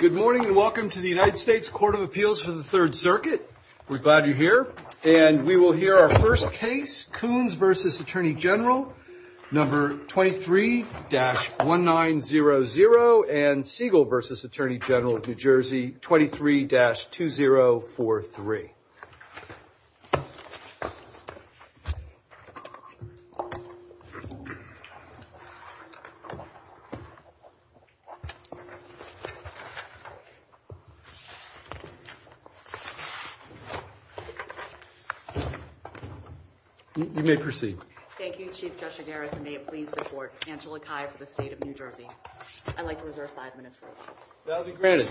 Good morning and welcome to the United States Court of Appeals for the Third Circuit. We're glad you're here. And we will hear our first case, Coons v. Atty Gen 23-1900 and Siegel v. Atty Gen NJ 23-2043. You may proceed. Thank you, Chief Justice Harris, and may it please the Court, Angela Kai for the State of New Jersey. I'd like to reserve five minutes for this. That will be granted.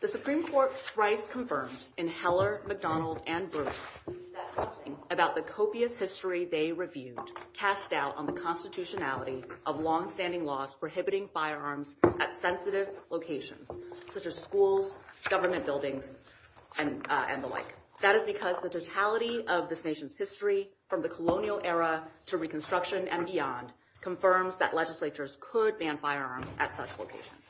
The Supreme Court thrice confirmed in Heller, McDonald, and Bruce that something about the copious history they reviewed cast doubt on the constitutionality of longstanding laws prohibiting firearms at sensitive locations, such as schools, government buildings, and the like. That is because the totality of this nation's history, from the colonial era to Reconstruction and beyond, confirms that legislatures could ban firearms at such locations.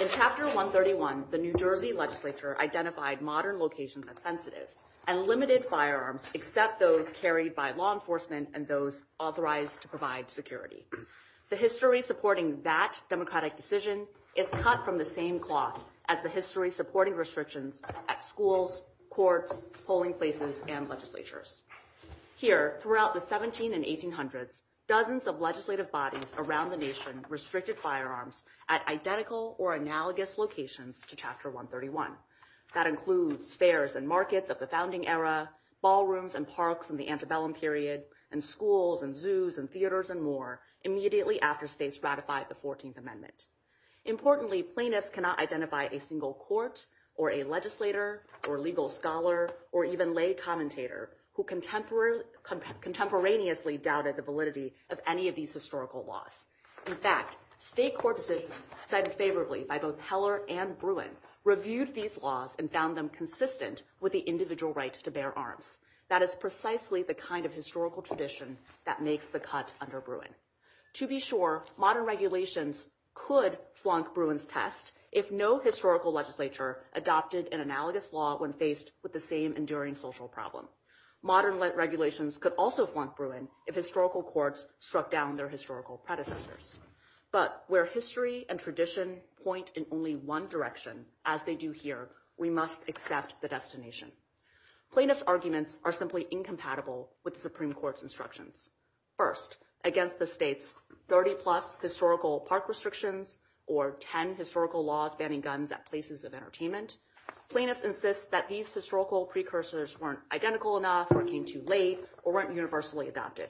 In Chapter 131, the New Jersey legislature identified modern locations as sensitive and limited firearms except those carried by law enforcement and those authorized to provide security. The history supporting that democratic decision is cut from the same cloth as the history supporting restrictions at schools, courts, polling places, and legislatures. Here, throughout the 1700s and 1800s, dozens of legislative bodies around the nation restricted firearms at identical or analogous locations to Chapter 131. That includes fairs and markets of the founding era, ballrooms and parks in the antebellum period, and schools and zoos and theaters and more immediately after states ratified the 14th Amendment. Importantly, plaintiffs cannot identify a single court or a legislator or legal scholar or even lay commentator who contemporaneously doubted the validity of any of these historical laws. In fact, state court decisions cited favorably by both Heller and Bruin reviewed these laws and found them consistent with the individual right to bear arms. That is precisely the kind of historical tradition that makes the cut under Bruin. To be sure, modern regulations could flunk Bruin's test if no historical legislature adopted an analogous law when faced with the same enduring social problem. Modern regulations could also flunk Bruin if historical courts struck down their historical predecessors. But where history and tradition point in only one direction, as they do here, we must assess the destination. Plaintiffs' arguments are simply incompatible with Supreme Court's instructions. First, against the state's 30-plus historical park restrictions or 10 historical laws banning guns at places of entertainment, plaintiffs insist that these historical precursors weren't identical enough or came too late or weren't universally adopted.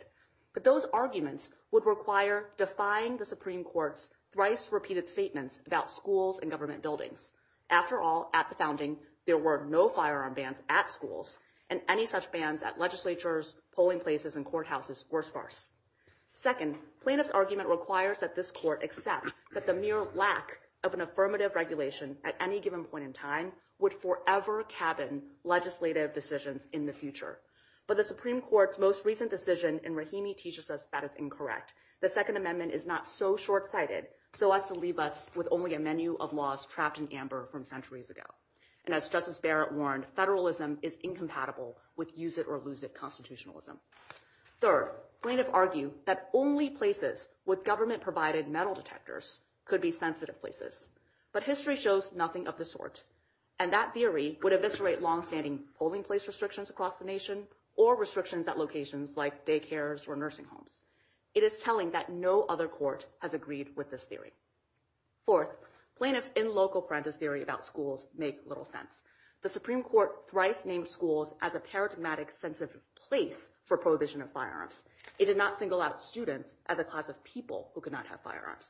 But those arguments would require defying the Supreme Court's thrice-repeated statements about schools and government buildings. After all, at the founding, there were no firearm bans at schools, and any such bans at legislatures, polling places, and courthouses were sparse. Second, plaintiffs' argument requires that this court accept that the mere lack of an affirmative regulation at any given point in time would forever cabin legislative decisions in the future. But the Supreme Court's most recent decision in Rahimi teaches us that it's incorrect. The Second Amendment is not so short-sighted so as to leave us with only a menu of laws trapped in amber from centuries ago. And as Justice Barrett warned, federalism is incompatible with use-it-or-lose-it constitutionalism. Third, plaintiffs argue that only places with government-provided metal detectors could be sensitive places. But history shows nothing of the sort, and that theory would eviscerate longstanding polling place restrictions across the nation or restrictions at locations like daycares or nursing homes. It is telling that no other court has agreed with this theory. Fourth, plaintiffs' in-local parenthesis theory about schools makes little sense. The Supreme Court thrice named schools as a paradigmatic sensitive place for prohibition of firearms. It did not single out students as a cause of people who could not have firearms.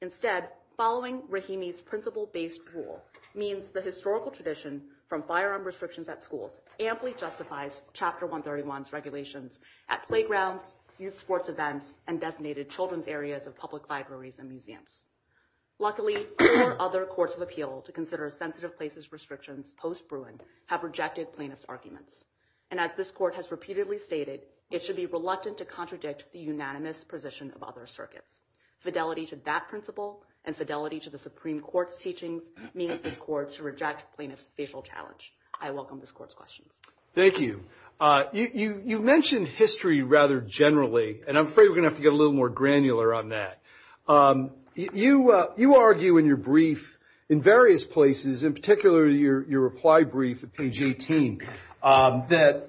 Instead, following Rahimi's principle-based rule means the historical tradition from firearm restrictions at schools amply justifies Chapter 131's regulations at playgrounds, youth sports events, and designated children's areas of public libraries and museums. Luckily, four other courts of appeal to consider sensitive places restrictions post-Bruin have rejected plaintiffs' arguments. And as this Court has repeatedly stated, it should be reluctant to contradict the unanimous position of other circuits. Fidelity to that principle and fidelity to the Supreme Court's teaching means that courts reject plaintiffs' facial challenge. I welcome this Court's question. Thank you. You mentioned history rather generally, and I'm afraid we're going to have to get a little more granular on that. You argue in your brief in various places, in particular your reply brief at page 18, that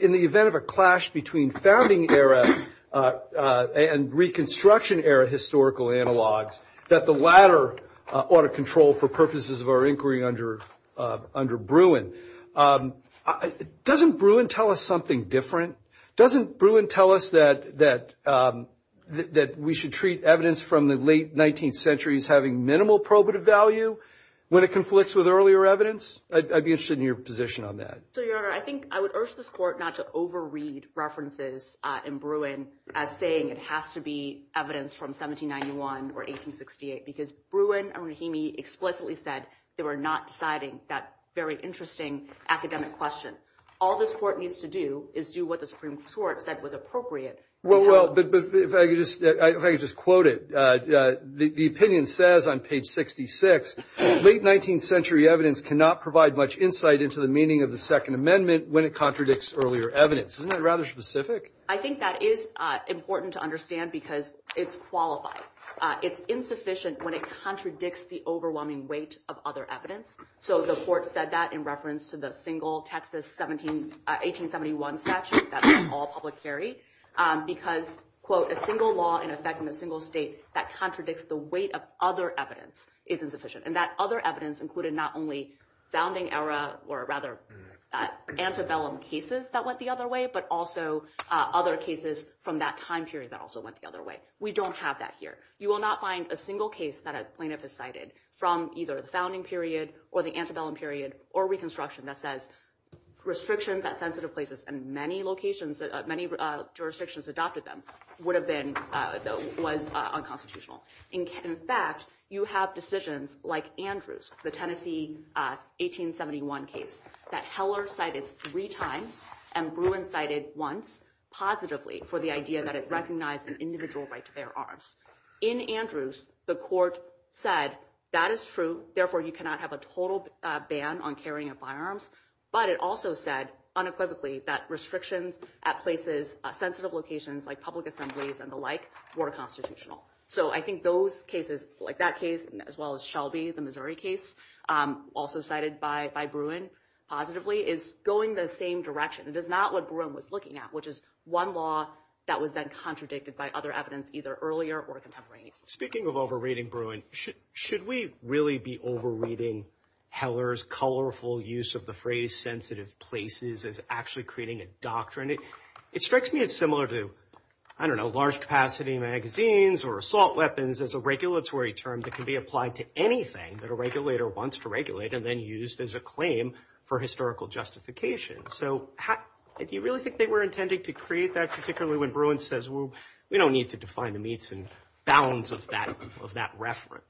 in the event of a clash between founding era and Reconstruction era historical analogs, that the latter ought to control for purposes of our inquiry under Bruin. Doesn't Bruin tell us something different? Doesn't Bruin tell us that we should treat evidence from the late 19th century as having minimal probative value when it conflicts with earlier evidence? I'd be interested in your position on that. So, Your Honor, I think I would urge this Court not to overread references in Bruin as saying it has to be evidence from 1791 or 1868, because Bruin and Rahimi explicitly said they were not deciding that very interesting academic question. All this Court needs to do is do what the Supreme Court said was appropriate. Well, if I could just quote it. The opinion says on page 66, late 19th century evidence cannot provide much insight into the meaning of the Second Amendment when it contradicts earlier evidence. Isn't that rather specific? I think that is important to understand because it's qualified. It's insufficient when it contradicts the overwhelming weight of other evidence. So the Court said that in reference to the single Texas 1871 statute that was all publicary because, quote, a single law in effect in a single state that contradicts the weight of other evidence is insufficient. And that other evidence included not only founding era or rather antebellum cases that went the other way, but also other cases from that time period that also went the other way. We don't have that here. You will not find a single case that a plaintiff has cited from either the founding period or the antebellum period or Reconstruction that says restrictions at sensitive places in many jurisdictions adopted them would have been unconstitutional. In fact, you have decisions like Andrews, the Tennessee 1871 case that Heller cited three times and Bruin cited once positively for the idea that it recognized an individual right to bear arms. In Andrews, the Court said that is true, therefore you cannot have a total ban on carrying a firearm. But it also said unequivocally that restrictions at places, sensitive locations like public assemblies and the like were constitutional. So I think those cases like that case as well as Shelby, the Missouri case also cited by Bruin positively is going the same direction. It is not what Bruin was looking at, which is one law that was then contradicted by other evidence either earlier or contemporary. Speaking of overriding Bruin, should we really be overriding Heller's colorful use of the phrase sensitive places as actually creating a doctrine? It strikes me as similar to, I don't know, large capacity magazines or assault weapons as a regulatory term that can be applied to anything that a regulator wants to regulate and then used as a claim for historical justification. So do you really think they were intending to create that, particularly when Bruin says, well, we don't need to define the needs and bounds of that reference?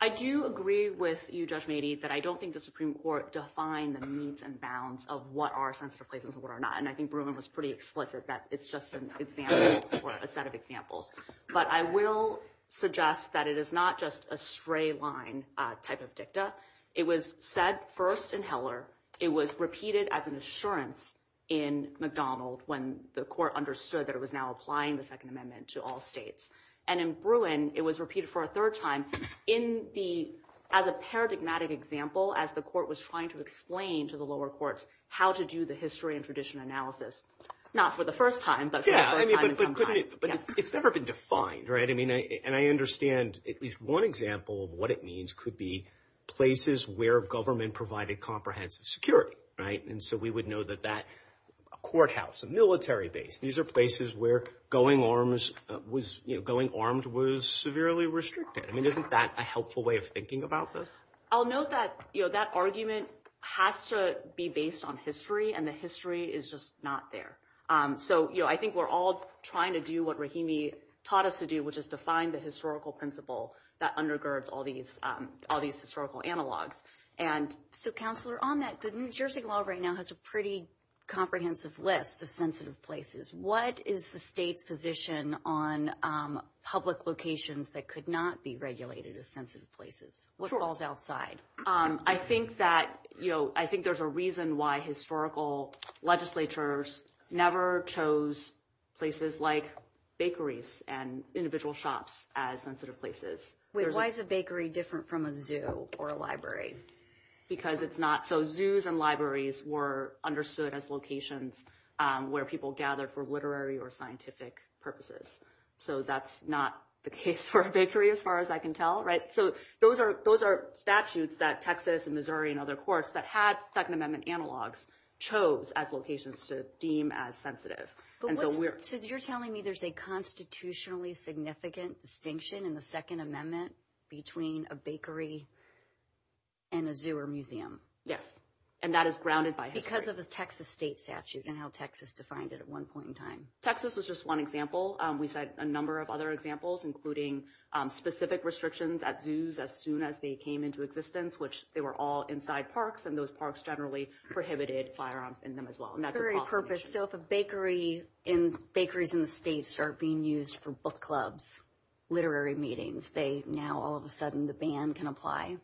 I do agree with you, Judge Meadey, that I don't think the Supreme Court defined the needs and bounds of what are sensitive places and what are not. And I think Bruin was pretty explicit that it's just an example or a set of examples. But I will suggest that it is not just a stray line type of dicta. It was said first in Heller. It was repeated as an assurance in McDonald when the court understood that it was now applying the Second Amendment to all states. And in Bruin, it was repeated for a third time as a paradigmatic example as the court was trying to explain to the lower courts how to do the history and tradition analysis, not for the first time, but for the second time. But it's never been defined, right? And I understand at least one example of what it means could be places where government provided comprehensive security, right? And so we would know that that courthouse, a military base, these are places where going armed was severely restricted. I mean, isn't that a helpful way of thinking about this? I'll note that that argument has to be based on history, and the history is just not there. So I think we're all trying to do what Rahimi taught us to do, which is define the historical principle that undergirds all these historical analogs. And so, Counselor, on that, the New Jersey law right now has a pretty comprehensive list of sensitive places. What is the state's position on public locations that could not be regulated as sensitive places? What falls outside? I think there's a reason why historical legislatures never chose places like bakeries and individual shops as sensitive places. Why is a bakery different from a zoo or a library? Because it's not. So zoos and libraries were understood as locations where people gather for literary or scientific purposes. So that's not the case for a bakery, as far as I can tell, right? So those are statutes that Texas and Missouri and other courts that had Second Amendment analogs chose as locations to deem as sensitive. So you're telling me there's a constitutionally significant distinction in the Second Amendment between a bakery and a zoo or museum? Yes, and that is grounded by history. Because of the Texas state statute and how Texas defined it at one point in time. Texas was just one example. We've had a number of other examples, including specific restrictions at zoos as soon as they came into existence, which they were all inside parks. And those parks generally prohibited firearms in them as well. Very purposeful. So if a bakery and bakeries in the states are being used for book clubs, literary meetings, now all of a sudden the ban can apply?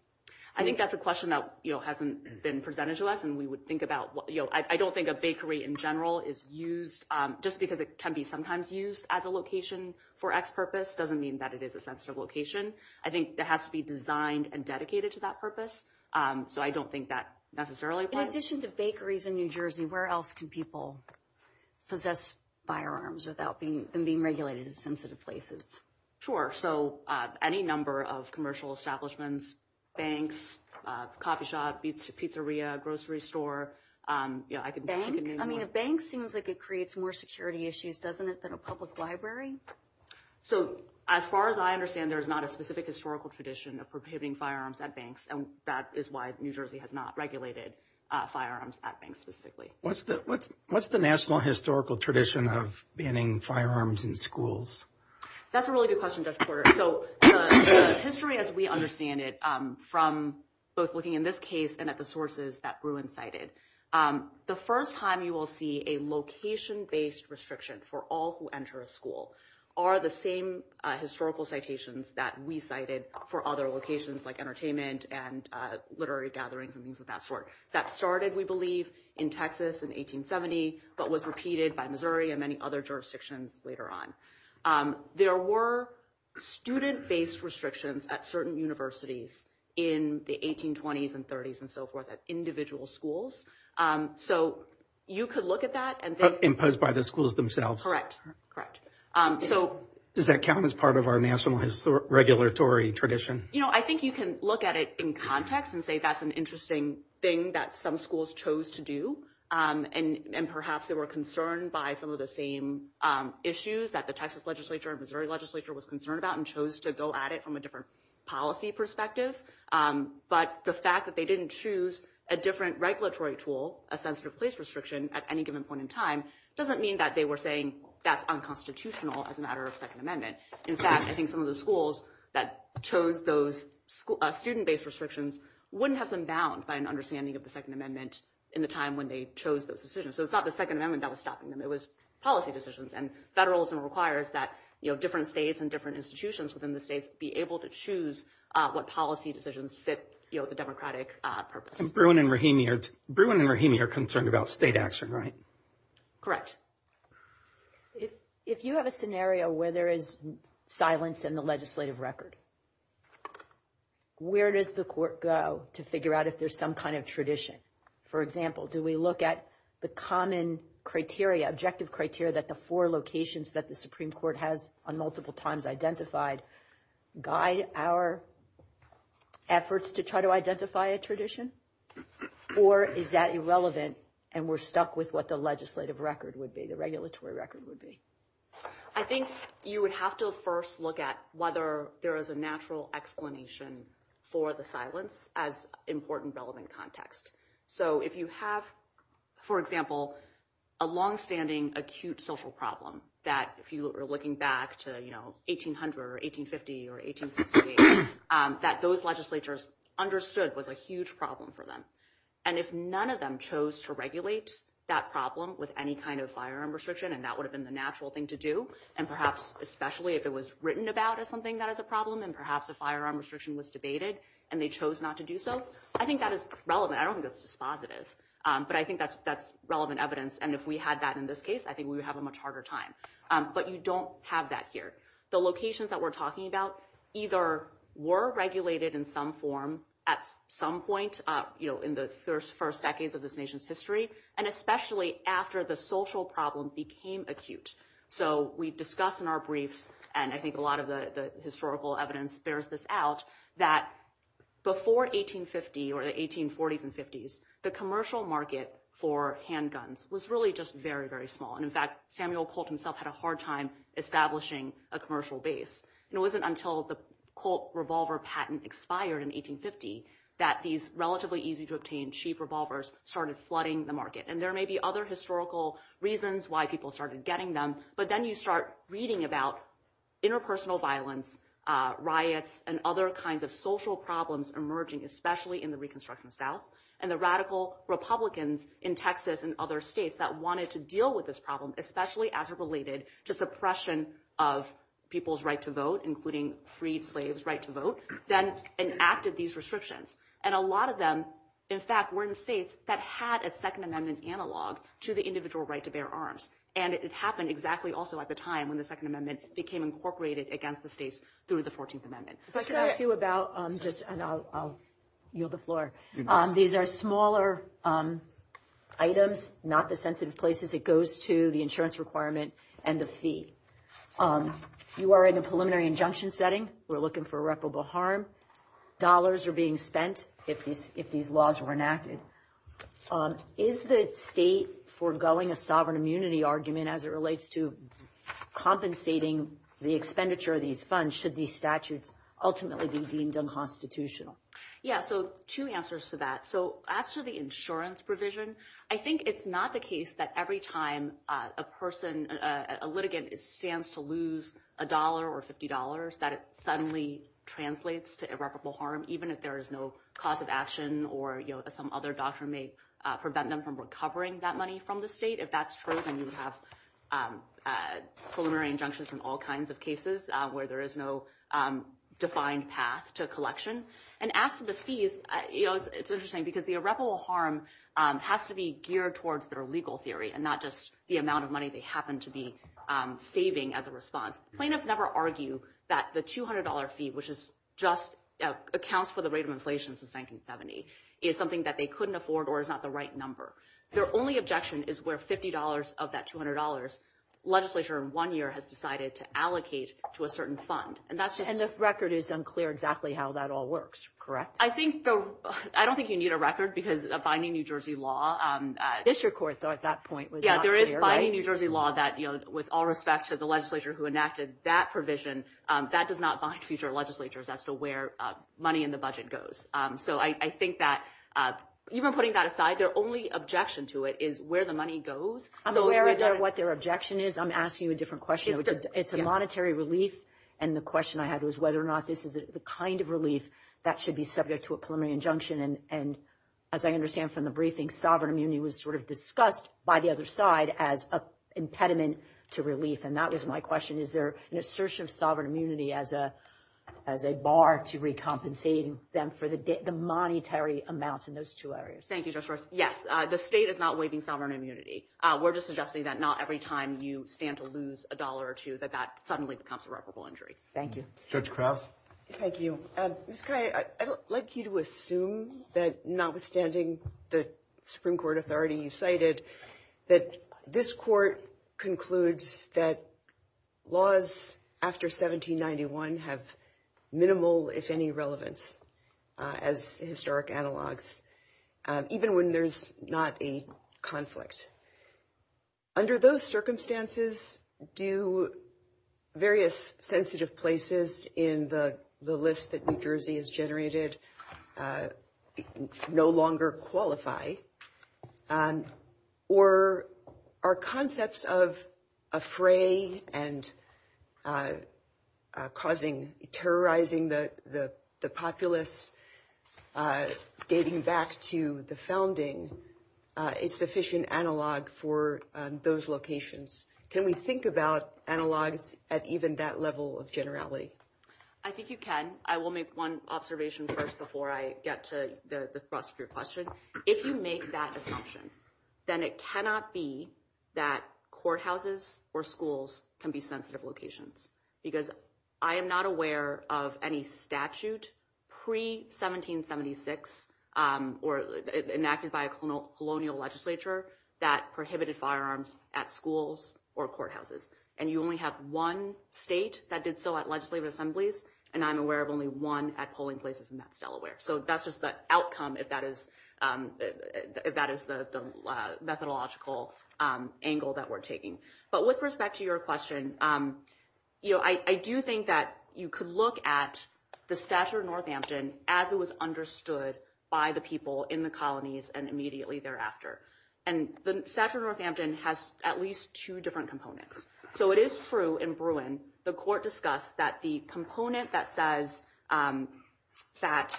I think that's a question that hasn't been presented to us. I don't think a bakery in general is used just because it can be sometimes used as a location for X purpose doesn't mean that it is a sensitive location. I think it has to be designed and dedicated to that purpose. So I don't think that necessarily applies. In addition to bakeries in New Jersey, where else can people possess firearms without them being regulated in sensitive places? Sure. So any number of commercial establishments, banks, coffee shop, pizzeria, grocery store. Banks? I mean, a bank seems like it creates more security issues, doesn't it, than a public library? So as far as I understand, there's not a specific historical tradition of prohibiting firearms at banks. And that is why New Jersey has not regulated firearms at banks specifically. What's the national historical tradition of banning firearms in schools? That's a really good question, Judge Porter. So the history as we understand it from both looking in this case and at the sources that Bruin cited, the first time you will see a location-based restriction for all who enter a school are the same historical citations that we cited for other locations, like entertainment and literary gatherings and things of that sort, that started, we believe, in Texas in 1870, but was repeated by Missouri and many other jurisdictions later on. There were student-based restrictions at certain universities in the 1820s and 30s and so forth at individual schools. So you could look at that. Imposed by the schools themselves. Correct, correct. Does that count as part of our national regulatory tradition? You know, I think you can look at it in context and say that's an interesting thing that some schools chose to do, and perhaps they were concerned by some of the same issues that the Texas legislature and Missouri legislature was concerned about and chose to go at it from a different policy perspective. But the fact that they didn't choose a different regulatory tool, a sense of place restriction, at any given point in time, doesn't mean that they were saying that's unconstitutional as a matter of Second Amendment. In fact, I think some of the schools that chose those student-based restrictions wouldn't have been bound by an understanding of the Second Amendment in the time when they chose those decisions. So it's not the Second Amendment that was stopping them. It was policy decisions, and federalism requires that different states and different institutions within the states be able to choose what policy decisions fit the democratic purpose. And Bruin and Rahimi are concerned about state action, right? Correct. If you have a scenario where there is silence in the legislative record, where does the court go to figure out if there's some kind of tradition? For example, do we look at the common criteria, objective criteria, that the four locations that the Supreme Court has on multiple times identified guide our efforts to try to identify a tradition? Or is that irrelevant and we're stuck with what the legislative record would be, the regulatory record would be? I think you would have to first look at whether there is a natural explanation for the silence as important relevant context. So if you have, for example, a longstanding acute social problem that, if you are looking back to 1800 or 1850 or 1868, that those legislatures understood was a huge problem for them. And if none of them chose to regulate that problem with any kind of firearm restriction, and that would have been the natural thing to do, and perhaps especially if it was written about as something that is a problem, and perhaps the firearm restriction was debated and they chose not to do so, I think that is relevant. I don't think it's dispositive, but I think that's relevant evidence. And if we had that in this case, I think we would have a much harder time. But you don't have that here. The locations that we're talking about either were regulated in some form at some point in the first decades of this nation's history, and especially after the social problem became acute. So we discussed in our briefs, and I think a lot of the historical evidence bears this out, that before 1850 or the 1840s and 50s, the commercial market for handguns was really just very, very small. And in fact, Samuel Colt himself had a hard time establishing a commercial base. It wasn't until the Colt revolver patent expired in 1850 that these relatively easy-to-obtain cheap revolvers started flooding the market. And there may be other historical reasons why people started getting them, but then you start reading about interpersonal violence, riots, and other kinds of social problems emerging, especially in the Reconstruction South. And the radical Republicans in Texas and other states that wanted to deal with this problem, especially as it related to suppression of people's right to vote, including freed slaves' right to vote, then enacted these restrictions. And a lot of them, in fact, were in states that had a Second Amendment analog to the individual right to bear arms. And it happened exactly also at the time when the Second Amendment became incorporated against the states through the 14th Amendment. But can I ask you about just – and I'll yield the floor. These are smaller items, not the sensitive places. It goes to the insurance requirement and the fee. You are in a preliminary injunction setting. We're looking for irreparable harm. Dollars are being spent if these laws were enacted. Is the state forgoing a sovereign immunity argument as it relates to compensating the expenditure of these funds should these statutes ultimately be deemed unconstitutional? Yeah, so two answers to that. So as to the insurance provision, I think it's not the case that every time a person, a litigant, stands to lose $1 or $50 that it suddenly translates to irreparable harm, even if there is no cause of action or some other doctrine may prevent them from recovering that money from the state. If that's true, then you have preliminary injunctions in all kinds of cases where there is no defined path to collection. And as to the fees, it's interesting because the irreparable harm has to be geared towards their legal theory and not just the amount of money they happen to be saving as a response. Plaintiffs never argue that the $200 fee, which just accounts for the rate of inflation since 1970, is something that they couldn't afford or is not the right number. Their only objection is where $50 of that $200 legislature in one year has decided to allocate to a certain fund. And the record is unclear exactly how that all works, correct? I don't think you need a record because a binding New Jersey law… It's your court, though, at that point. Yeah, there is a binding New Jersey law that, with all respect to the legislature who enacted that provision, that does not bind future legislatures as to where money in the budget goes. So I think that even putting that aside, their only objection to it is where the money goes. I'm aware of what their objection is. I'm asking you a different question. It's a monetary relief, and the question I have is whether or not this is the kind of relief that should be subject to a preliminary injunction. And as I understand from the briefing, sovereign immunity was sort of discussed by the other side as an impediment to relief. And that was my question. Is there an assertion of sovereign immunity as a bar to recompensate them for the monetary amounts in those two areas? Thank you, Judge Ross. Yes, the state is not waiving sovereign immunity. We're just suggesting that not every time you stand to lose a dollar or two that that suddenly becomes irreparable injury. Thank you. Judge Krause? Thank you. Ms. Kaye, I'd like you to assume that notwithstanding the Supreme Court authority you cited, that this court concludes that laws after 1791 have minimal, if any, relevance as historic analogs, even when there's not a conflict. Under those circumstances, do various sensitive places in the list that New Jersey has generated no longer qualify? Or are concepts of a fray and terrorizing the populace dating back to the founding sufficient analog for those locations? Can we think about analog at even that level of generality? I think you can. I will make one observation first before I get to the thrust of your question. If you make that assumption, then it cannot be that courthouses or schools can be sensitive locations. Because I am not aware of any statute pre-1776 or enacted by a colonial legislature that prohibited firearms at schools or courthouses. And you only have one state that did so at legislative assemblies, and I'm aware of only one at polling places, and that's Delaware. So that's just the outcome, if that is the methodological angle that we're taking. But with respect to your question, I do think that you could look at the Satcher-Northampton as it was understood by the people in the colonies and immediately thereafter. And the Satcher-Northampton has at least two different components. So it is true in Bruin, the court discussed that the component that says that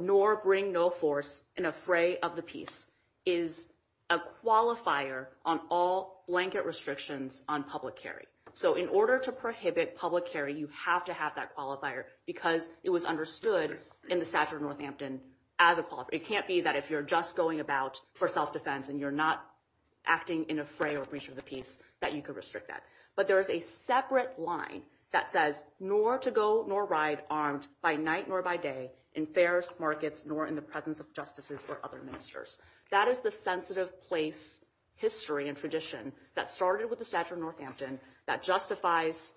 nor bring no force in a fray of the peace is a qualifier on all blanket restrictions on public carry. So in order to prohibit public carry, you have to have that qualifier because it was understood in the Satcher-Northampton as a qualifier. It can't be that if you're just going about for self-defense and you're not acting in a fray or breach of the peace that you could restrict that. But there is a separate line that says nor to go nor ride armed by night nor by day in fairs, markets, nor in the presence of justices or other ministers. That is the sensitive place history and tradition that started with the Satcher-Northampton that justifies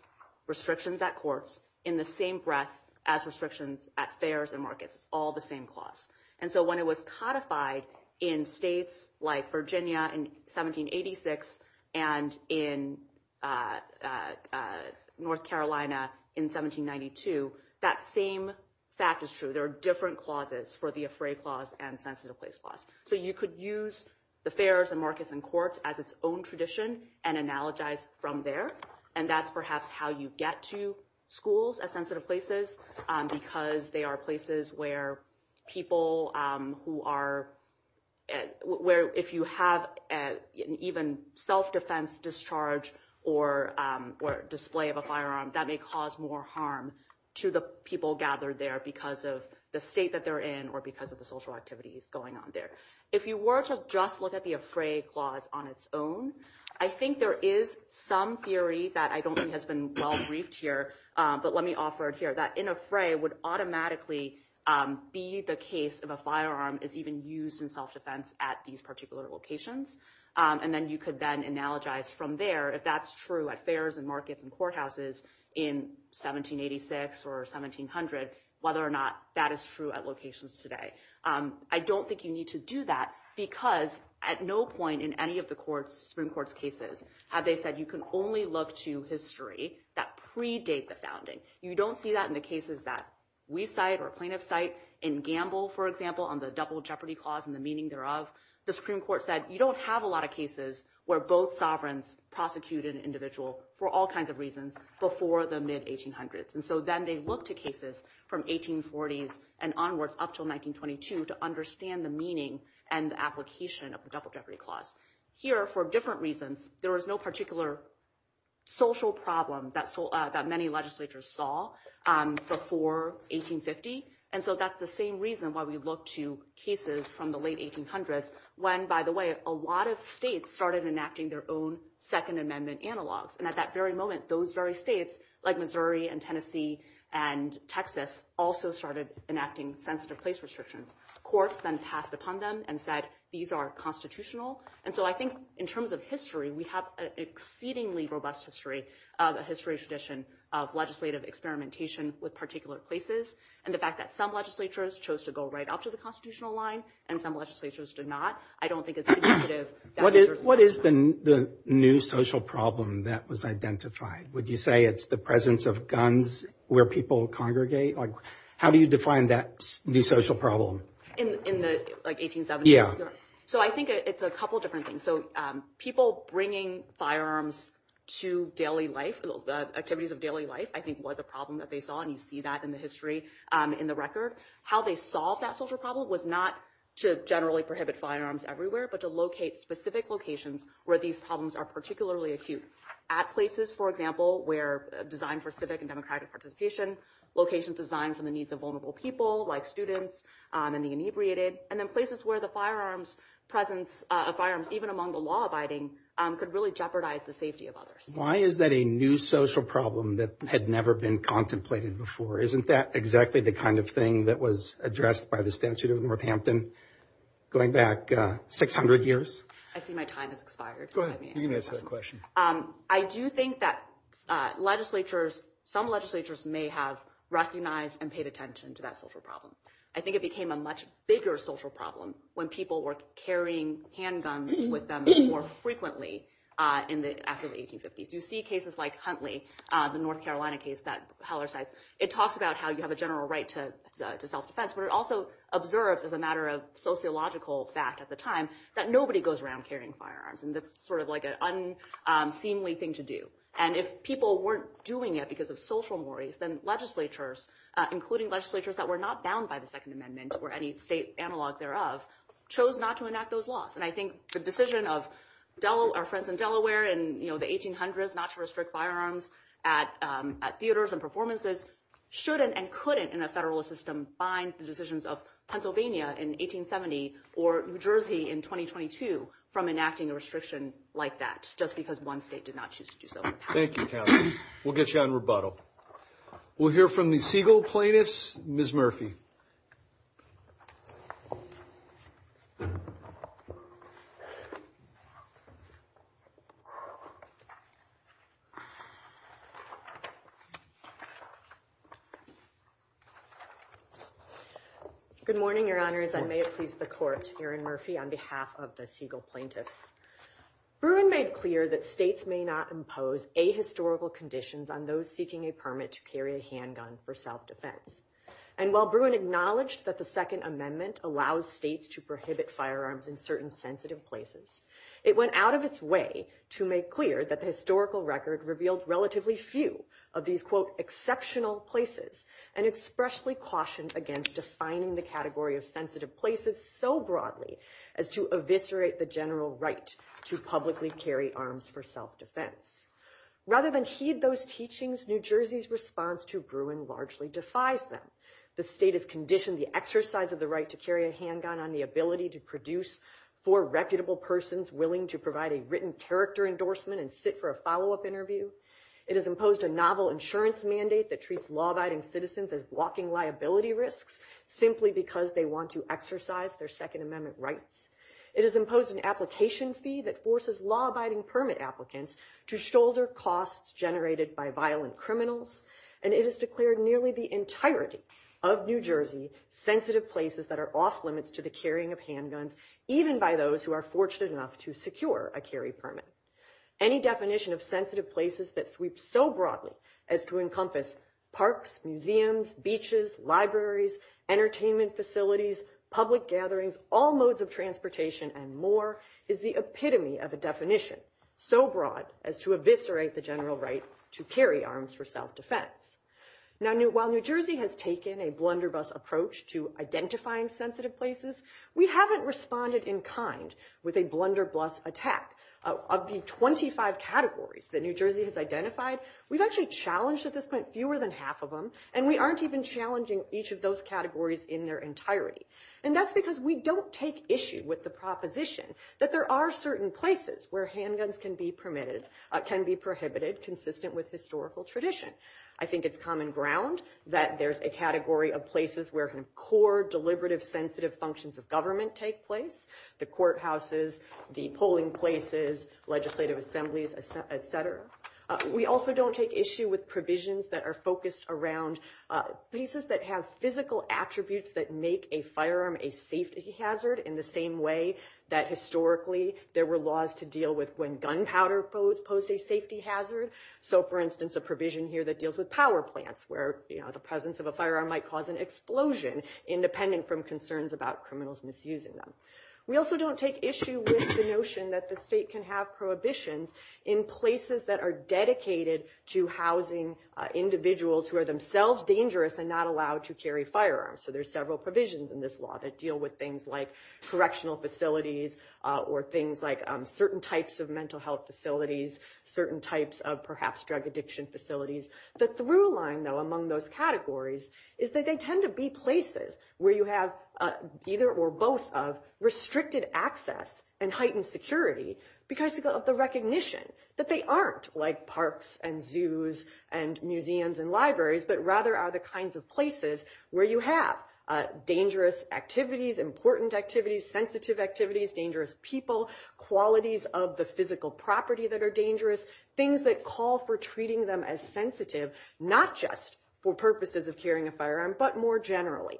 restrictions at courts in the same breath as restrictions at fairs and markets, all the same clause. And so when it was codified in states like Virginia in 1786 and in North Carolina in 1792, that same fact is true. There are different clauses for the fray clause and sensitive place clause. So you could use the fairs and markets and courts as its own tradition and analogize from there, and that's perhaps how you get to schools as sensitive places because they are places where people who are – where if you have an even self-defense discharge or display of a firearm, that may cause more harm to the people gathered there because of the state that they're in or because of the social activities going on there. If you were to just look at the fray clause on its own, I think there is some theory that I don't think has been well briefed here, but let me offer it here, that in a fray would automatically be the case if a firearm is even used in self-defense at these particular locations. And then you could then analogize from there if that's true at fairs and markets and courthouses in 1786 or 1700 whether or not that is true at locations today. I don't think you need to do that because at no point in any of the Supreme Court's cases have they said you can only look to history that predates the founding. You don't see that in the cases that we cite or plaintiffs cite in Gamble, for example, on the double jeopardy clause and the meaning thereof. The Supreme Court said you don't have a lot of cases where both sovereigns prosecuted an individual for all kinds of reasons before the mid-1800s. And so then they look to cases from 1840s and onward up until 1922 to understand the meaning and the application of the double jeopardy clause. Here, for different reasons, there was no particular social problem that many legislatures saw before 1850. And so that's the same reason why we look to cases from the late 1800s when, by the way, a lot of states started enacting their own Second Amendment analogs. And at that very moment, those very states, like Missouri and Tennessee and Texas, also started enacting sensitive place restrictions. Courts then passed upon them and said these are constitutional. And so I think in terms of history, we have an exceedingly robust history of a history tradition of legislative experimentation with particular places. And the fact that some legislatures chose to go right up to the constitutional line and some legislatures did not, I don't think it's indicative. What is the new social problem that was identified? Would you say it's the presence of guns where people congregate? How do you define that new social problem? In the 1870s? So I think it's a couple of different things. So people bringing firearms to daily life, the activities of daily life, I think was a problem that they saw. And you see that in the history in the record. How they solved that social problem was not to generally prohibit firearms everywhere but to locate specific locations where these problems are particularly acute. At places, for example, where designed for civic and democratic participation, locations designed for the needs of vulnerable people like students and the inebriated, and then places where the presence of firearms, even among the law-abiding, could really jeopardize the safety of others. Why is that a new social problem that had never been contemplated before? Isn't that exactly the kind of thing that was addressed by the statute of Northampton going back 600 years? I see my time has expired. Go ahead. You can answer the question. I do think that legislatures, some legislatures may have recognized and paid attention to that social problem. I think it became a much bigger social problem when people were carrying handguns with them more frequently after the 1850s. You see cases like Huntley, the North Carolina case that Heller cites. It talks about how you have a general right to self-defense, but it also observes, as a matter of sociological fact at the time, that nobody goes around carrying firearms. And that's sort of like an unseemly thing to do. And if people weren't doing it because of social mores, then legislatures, including legislatures that were not bound by the Second Amendment or any state analog thereof, chose not to enact those laws. And I think the decision of our friends in Delaware in the 1800s not to restrict firearms at theaters and performances shouldn't and couldn't in a federalist system bind the decisions of Pennsylvania in 1870 or New Jersey in 2022 from enacting a restriction like that just because one state did not choose to do so. Thank you, Cassie. We'll get you on rebuttal. We'll hear from the Siegel plaintiffs. Ms. Murphy. Good morning, Your Honors. I may have pleased the court. My name is Erin Murphy on behalf of the Siegel plaintiffs. Bruin made clear that states may not impose ahistorical conditions on those seeking a permit to carry a handgun for self-defense. And while Bruin acknowledged that the Second Amendment allowed states to prohibit firearms in certain sensitive places, it went out of its way to make clear that the historical record revealed relatively few of these, quote, of sensitive places so broadly as to eviscerate the general right to publicly carry arms for self-defense. Rather than heed those teachings, New Jersey's response to Bruin largely defies them. The state has conditioned the exercise of the right to carry a handgun on the ability to produce four reputable persons willing to provide a written character endorsement and sit for a follow-up interview. It has imposed a novel insurance mandate that treats law-abiding citizens as blocking liability risks simply because they want to exercise their Second Amendment rights. It has imposed an application fee that forces law-abiding permit applicants to shoulder costs generated by violent criminals. And it has declared nearly the entirety of New Jersey sensitive places that are off-limits to the carrying of handguns, even by those who are fortunate enough to secure a carry permit. Any definition of sensitive places that sweeps so broadly as to encompass parks, museums, beaches, libraries, entertainment facilities, public gatherings, all modes of transportation, and more, is the epitome of a definition so broad as to eviscerate the general right to carry arms for self-defense. Now, while New Jersey has taken a blunderbuss approach to identifying sensitive places, we haven't responded in kind with a blunderbuss attack. Of the 25 categories that New Jersey has identified, we've actually challenged at this point fewer than half of them, and we aren't even challenging each of those categories in their entirety. And that's because we don't take issue with the proposition that there are certain places where handguns can be prohibited consistent with historical tradition. I think it's common ground that there's a category of places where core, deliberative, sensitive functions of government take place, the courthouses, the polling places, legislative assemblies, et cetera. We also don't take issue with provisions that are focused around pieces that have physical attributes that make a firearm a safety hazard in the same way that historically there were laws to deal with when gunpowder posed a safety hazard. So, for instance, a provision here that deals with power plants where the presence of a firearm might cause an explosion independent from concerns about criminals misusing them. We also don't take issue with the notion that the state can have prohibitions in places that are dedicated to housing individuals who are themselves dangerous and not allowed to carry firearms. So there's several provisions in this law that deal with things like correctional facilities or things like certain types of mental health facilities, certain types of perhaps drug addiction facilities. The through line, though, among those categories is that they tend to be places where you have either or both of restricted access and heightened security because of the recognition that they aren't like parks and zoos and museums and libraries, but rather are the kinds of places where you have dangerous activities, important activities, sensitive activities, dangerous people, qualities of the physical property that are dangerous, things that call for treating them as sensitive, not just for purposes of carrying a firearm, but more generally.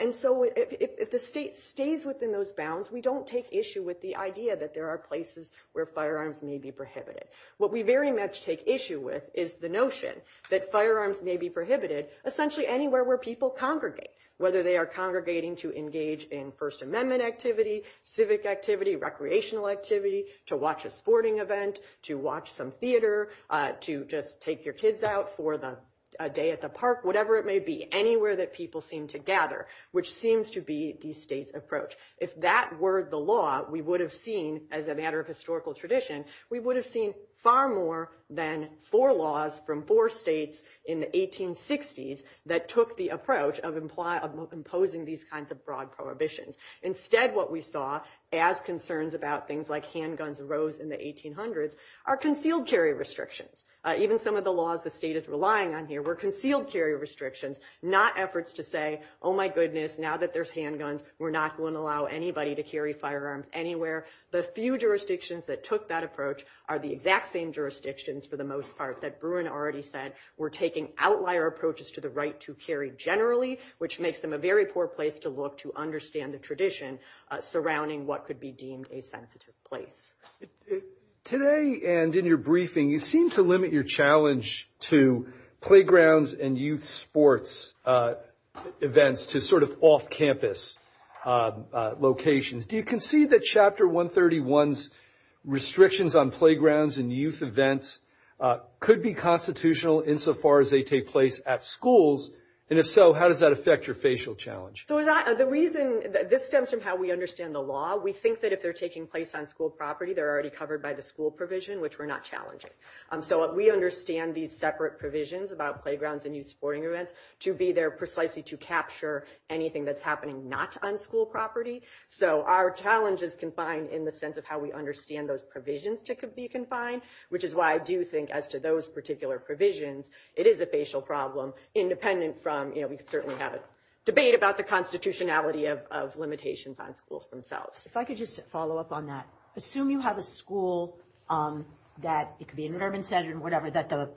And so if the state stays within those bounds, we don't take issue with the idea that there are places where firearms may be prohibited. What we very much take issue with is the notion that firearms may be prohibited essentially anywhere where people congregate, whether they are congregating to engage in First Amendment activity, civic activity, recreational activity, to watch a sporting event, to watch some theater, to just take your kids out for a day at the park, whatever it may be, anywhere that people seem to gather, which seems to be the state's approach. If that were the law, we would have seen, as a matter of historical tradition, we would have seen far more than four laws from four states in the 1860s that took the approach of imposing these kinds of broad prohibitions. Instead, what we saw as concerns about things like handguns arose in the 1800s are concealed carry restrictions. Even some of the laws the state is relying on here were concealed carry restrictions, not efforts to say, oh my goodness, now that there's handguns, we're not going to allow anybody to carry firearms anywhere. The few jurisdictions that took that approach are the exact same jurisdictions, for the most part, that Bruin already said were taking outlier approaches to the right to carry generally, which makes them a very poor place to look to understand the tradition surrounding what could be deemed a sensitive place. Today and in your briefing, you seem to limit your challenge to playgrounds and youth sports events to sort of off-campus locations. Do you concede that Chapter 131's restrictions on playgrounds and youth events could be constitutional insofar as they take place at schools? And if so, how does that affect your facial challenge? This stems from how we understand the law. We think that if they're taking place on school property, they're already covered by the school provision, which we're not challenging. So we understand these separate provisions about playgrounds and youth sporting events to be there precisely to capture anything that's happening not on school property. So our challenge is confined in the sense of how we understand those provisions to be confined, which is why I do think as to those particular provisions, it is a facial problem independent from – you know, we certainly have a debate about the constitutionality of limitations on schools themselves. If I could just follow up on that. Assume you have a school that – it could be an environment center or whatever – that the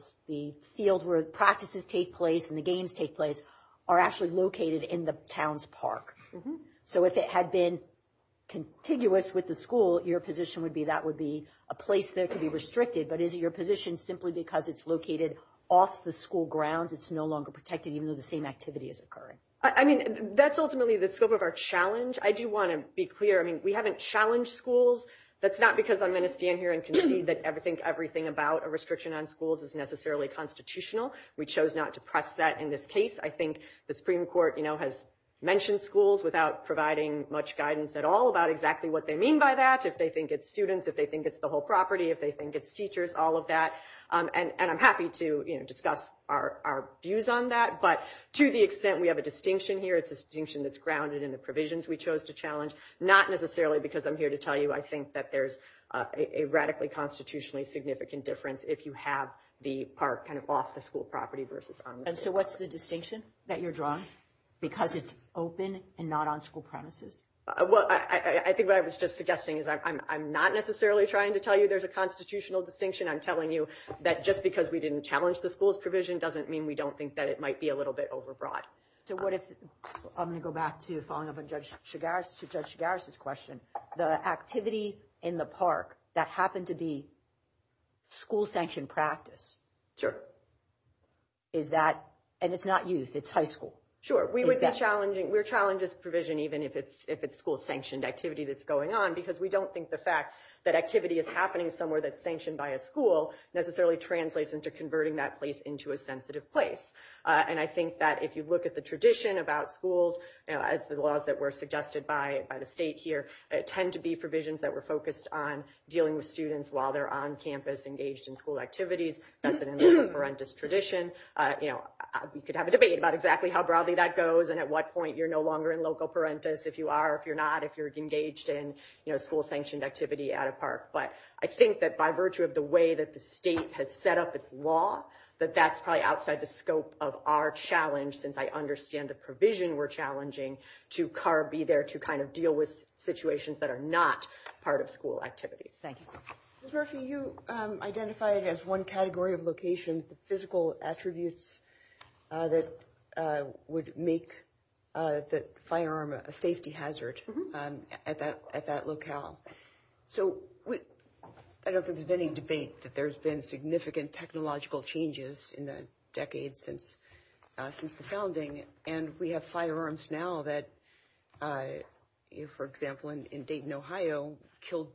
field where practices take place and the games take place are actually located in the town's park. So if it had been contiguous with the school, your position would be that would be a place that could be restricted. But is your position simply because it's located off the school grounds, it's no longer protected even though the same activity is occurring? I mean, that's ultimately the scope of our challenge. I do want to be clear. I mean, we haven't challenged schools. That's not because I'm going to stand here and concede that everything about a restriction on schools is necessarily constitutional. We chose not to press that in this case. I think the Supreme Court, you know, has mentioned schools without providing much guidance at all about exactly what they mean by that, if they think it's students, if they think it's the whole property, if they think it's teachers, all of that. And I'm happy to, you know, discuss our views on that, but to the extent we have a distinction here, it's a distinction that's grounded in the provisions we chose to challenge, not necessarily because I'm here to tell you I think that there's a radically constitutionally significant difference if you have the park kind of off the school property versus on the school property. And so what's the distinction that you're drawing because it's open and not on school premises? Well, I think what I was just suggesting is I'm not necessarily trying to tell you there's a constitutional distinction. I'm telling you that just because we didn't challenge the school's provision doesn't mean we don't think that it might be a little bit overbroad. So what if – I'm going to go back to following up on Judge Chigaris's question. The activity in the park that happened to be school-sanctioned practice. Sure. Is that – and it's not youth. It's high school. Sure. We would be challenging – we're challenging this provision even if it's school-sanctioned activity that's going on because we don't think the fact that activity is happening somewhere that's sanctioned by a school necessarily translates into converting that place into a sensitive place. And I think that if you look at the tradition about schools, as the laws that were suggested by the state here, tend to be provisions that were focused on dealing with students while they're on campus engaged in school activities. That's an horrendous tradition. We could have a debate about exactly how broadly that goes and at what point you're no longer in loco parentis if you are, if you're not, if you're engaged in school-sanctioned activity at a park. But I think that by virtue of the way that the state has set up its law, that that's probably outside the scope of our challenge since I understand the provision we're challenging to be there to kind of deal with situations that are not part of school activities. Thank you. Ms. Murphy, you identified as one category of location the physical attributes that would make the firearm a safety hazard at that locale. So I don't think there's been any debate that there's been significant technological changes in the decades since the founding. And we have firearms now that, for example, in Dayton, Ohio, killed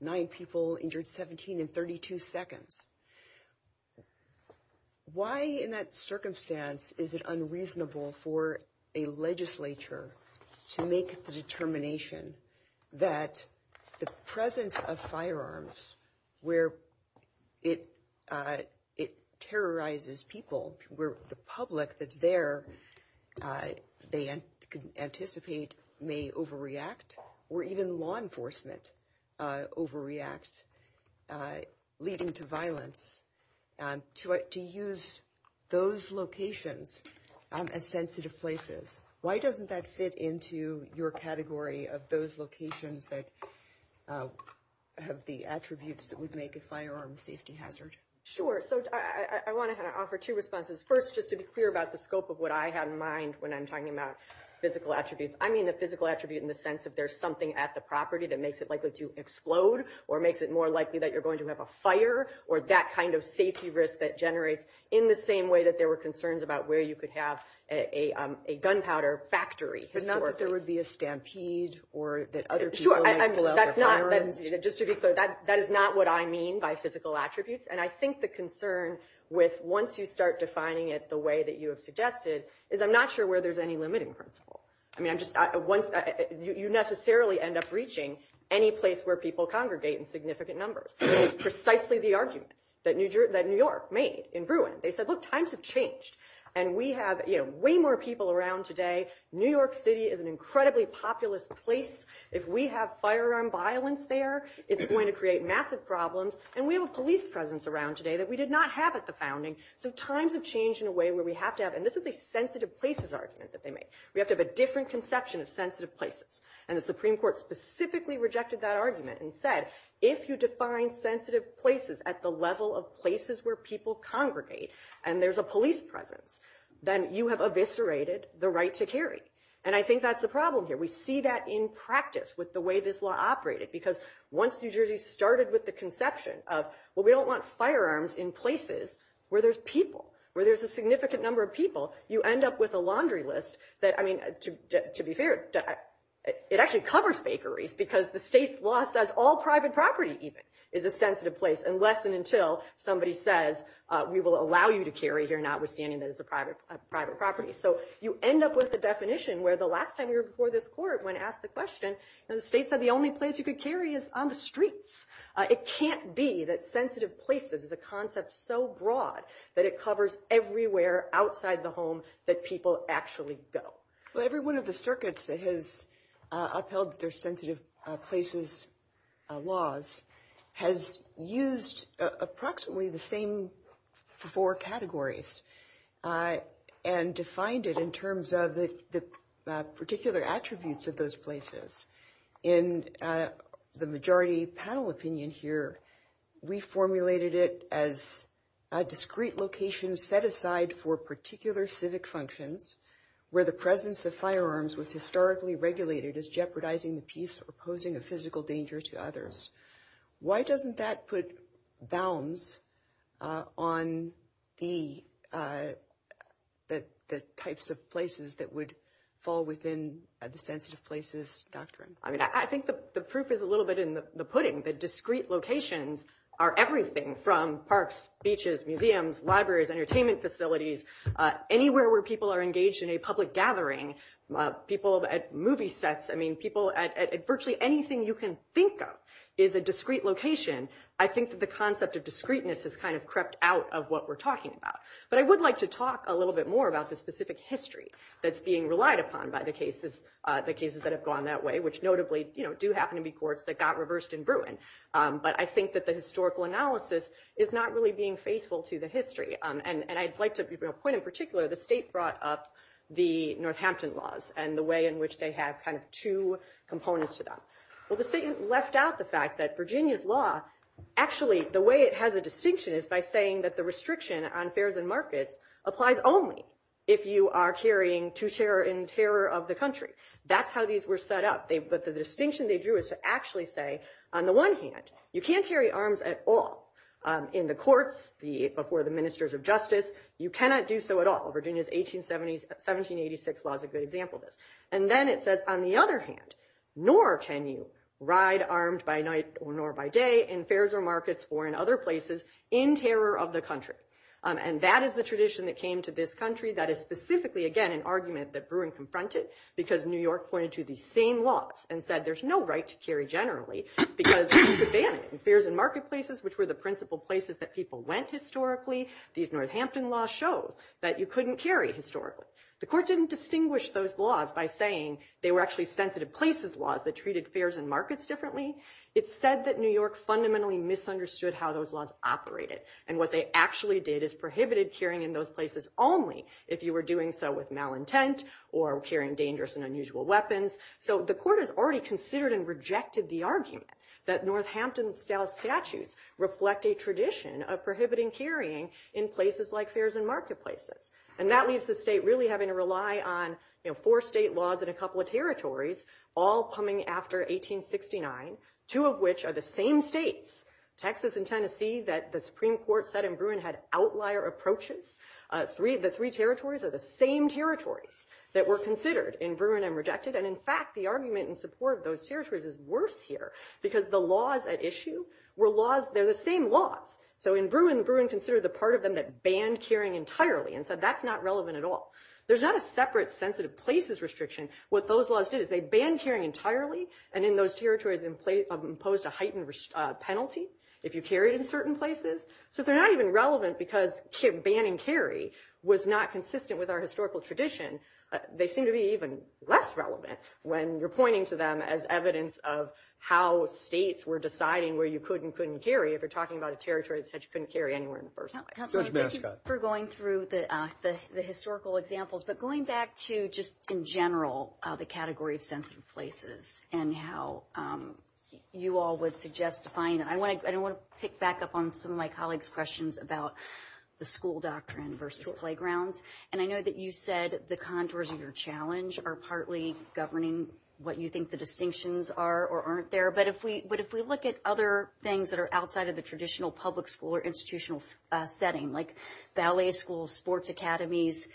nine people, injured 17 in 32 seconds. Why in that circumstance is it unreasonable for a legislature to make the determination that the presence of firearms where it terrorizes people, where the public that's there they anticipate may overreact or even law enforcement overreacts, leading to violence, to use those locations as sensitive places? Why doesn't that fit into your category of those locations that have the attributes that would make a firearm a safety hazard? Sure. So I want to offer two responses. First, just to be clear about the scope of what I have in mind when I'm talking about physical attributes. I mean the physical attribute in the sense that there's something at the property that makes it likely to explode or makes it more likely that you're going to have a fire or that kind of safety risk that generates in the same way that there were concerns about where you could have a gunpowder factory. But not that there would be a stampede or that other people may blow up a fire. Just to be clear, that is not what I mean by physical attributes. And I think the concern with once you start defining it the way that you have suggested is I'm not sure where there's any limiting principle. I mean you necessarily end up reaching any place where people congregate in significant numbers. That is precisely the argument that New York made in Bruin. They said, look, times have changed. And we have way more people around today. New York City is an incredibly populous place. If we have firearm violence there, it's going to create massive problems. And we have a police presence around today that we did not have at the founding. So times have changed in a way where we have to have, and this is a sensitive places argument that they made. We have to have a different conception of sensitive places. And the Supreme Court specifically rejected that argument and said, if you define sensitive places at the level of places where people congregate and there's a police presence, then you have eviscerated the right to carry. And I think that's the problem here. We see that in practice with the way this law operated. Because once New Jersey started with the conception of, well, we don't want firearms in places where there's people, where there's a significant number of people, you end up with a laundry list that, I mean, to be fair, it actually covers bakeries because the state law says all private property even is a sensitive place unless and until somebody says we will allow you to carry here notwithstanding that it's a private property. So you end up with a definition where the last time you were before this court when asked the question, the state said the only place you could carry is on the streets. It can't be that sensitive places is a concept so broad that it covers everywhere outside the home that people actually go. Every one of the circuits that has upheld their sensitive places laws has used approximately the same four categories and defined it in terms of the particular attributes of those places. In the majority panel opinion here, we formulated it as a discrete location set aside for particular civic functions where the presence of firearms was historically regulated as jeopardizing the peace or posing a physical danger to others. Why doesn't that put bounds on the types of places that would fall within the sensitive places doctrine? I mean, I think the proof is a little bit in the pudding. The discrete locations are everything from parks, beaches, museums, libraries, entertainment facilities, anywhere where people are engaged in a public gathering, people at movie sets. Virtually anything you can think of is a discrete location. I think that the concept of discreteness has kind of crept out of what we're talking about. But I would like to talk a little bit more about the specific history that's being relied upon by the cases that have gone that way, which notably do happen to be courts that got reversed in Bruin. But I think that the historical analysis is not really being faithful to the history. And I'd like to give you a point in particular. The state brought up the Northampton laws and the way in which they have kind of two components to them. Well, the state left out the fact that Virginia's law, actually, the way it has a distinction is by saying that the restriction on fares and markets applies only if you are carrying to terror and terror of the country. That's how these were set up. But the distinction they drew is to actually say, on the one hand, you can't carry arms at all. In the courts, before the ministers of justice, you cannot do so at all. Virginia's 1786 law is a good example of this. And then it says, on the other hand, nor can you ride armed by night nor by day in fares or markets or in other places in terror of the country. And that is the tradition that came to this country. That is specifically, again, an argument that Bruin confronted because New York pointed to these same laws and said there's no right to carry generally because it's a ban. And fares and marketplaces, which were the principal places that people went historically, these Northampton laws show that you couldn't carry historically. The court didn't distinguish those laws by saying they were actually sensitive places laws that treated fares and markets differently. It said that New York fundamentally misunderstood how those laws operated. And what they actually did is prohibited carrying in those places only if you were doing so with malintent or carrying dangerous and unusual weapons. So the court has already considered and rejected the argument that Northampton-style statutes reflect a tradition of prohibiting carrying in places like fares and marketplaces. And that leaves the state really having to rely on four state laws and a couple of territories, all coming after 1869, two of which are the same states, Texas and Tennessee, that the Supreme Court said in Bruin had outlier approaches. The three territories are the same territory that were considered in Bruin and rejected. And in fact, the argument in support of those territories is worse here because the laws at issue were laws. They're the same laws. So in Bruin, Bruin considered the part of them that banned carrying entirely and said that's not relevant at all. There's not a separate sensitive places restriction. What those laws did is they banned carrying entirely and in those territories imposed a heightened penalty if you carried in certain places. So they're not even relevant because banning carry was not consistent with our historical tradition. They seem to be even less relevant when you're pointing to them as evidence of how states were deciding where you could and couldn't carry if you're talking about a territory that said you couldn't carry anywhere in the first place. Thank you for going through the historical examples. But going back to just in general the category of sensitive places and how you all would suggest defining it, I want to pick back up on some of my colleagues' questions about the school doctrine versus the playground. And I know that you said the contours of your challenge are partly governing what you think the distinctions are or aren't there. But if we look at other things that are outside of the traditional public school or institutional setting like ballet schools, sports academies,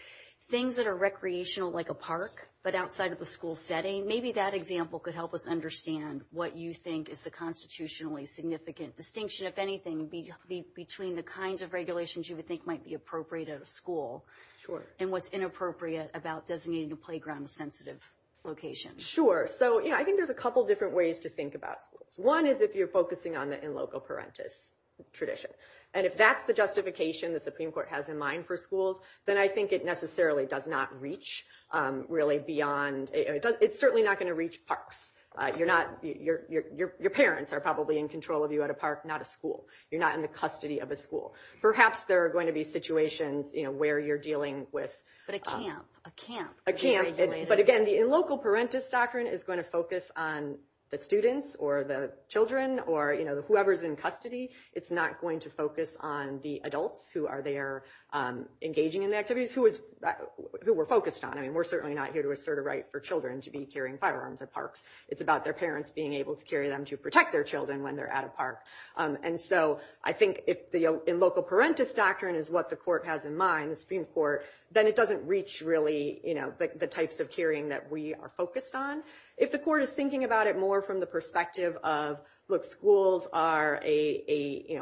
things that are recreational like a park but outside of the school setting, maybe that example could help us understand what you think is the constitutionally significant distinction, if anything, between the kinds of regulations you would think might be appropriate at a school and what's inappropriate about designating a playground as a sensitive location. Sure. So I think there's a couple different ways to think about it. One is if you're focusing on the in loco parentis tradition. And if that's the justification that the Supreme Court has in mind for schools, then I think it necessarily does not reach really beyond – it's certainly not going to reach parks. You're not – your parents are probably in control of you at a park, not a school. You're not in the custody of a school. Perhaps there are going to be situations where you're dealing with – But a camp. A camp. A camp. But, again, the in loco parentis doctrine is going to focus on the students or the children or whoever is in custody. It's not going to focus on the adults who are there engaging in the activities, who we're focused on. I mean, we're certainly not here to assert a right for children to be carrying firearms at parks. It's about their parents being able to carry them to protect their children when they're at a park. And so I think if the in loco parentis doctrine is what the court has in mind, the Supreme Court, then it doesn't reach really the types of carrying that we are focused on. If the court is thinking about it more from the perspective of, look, schools are a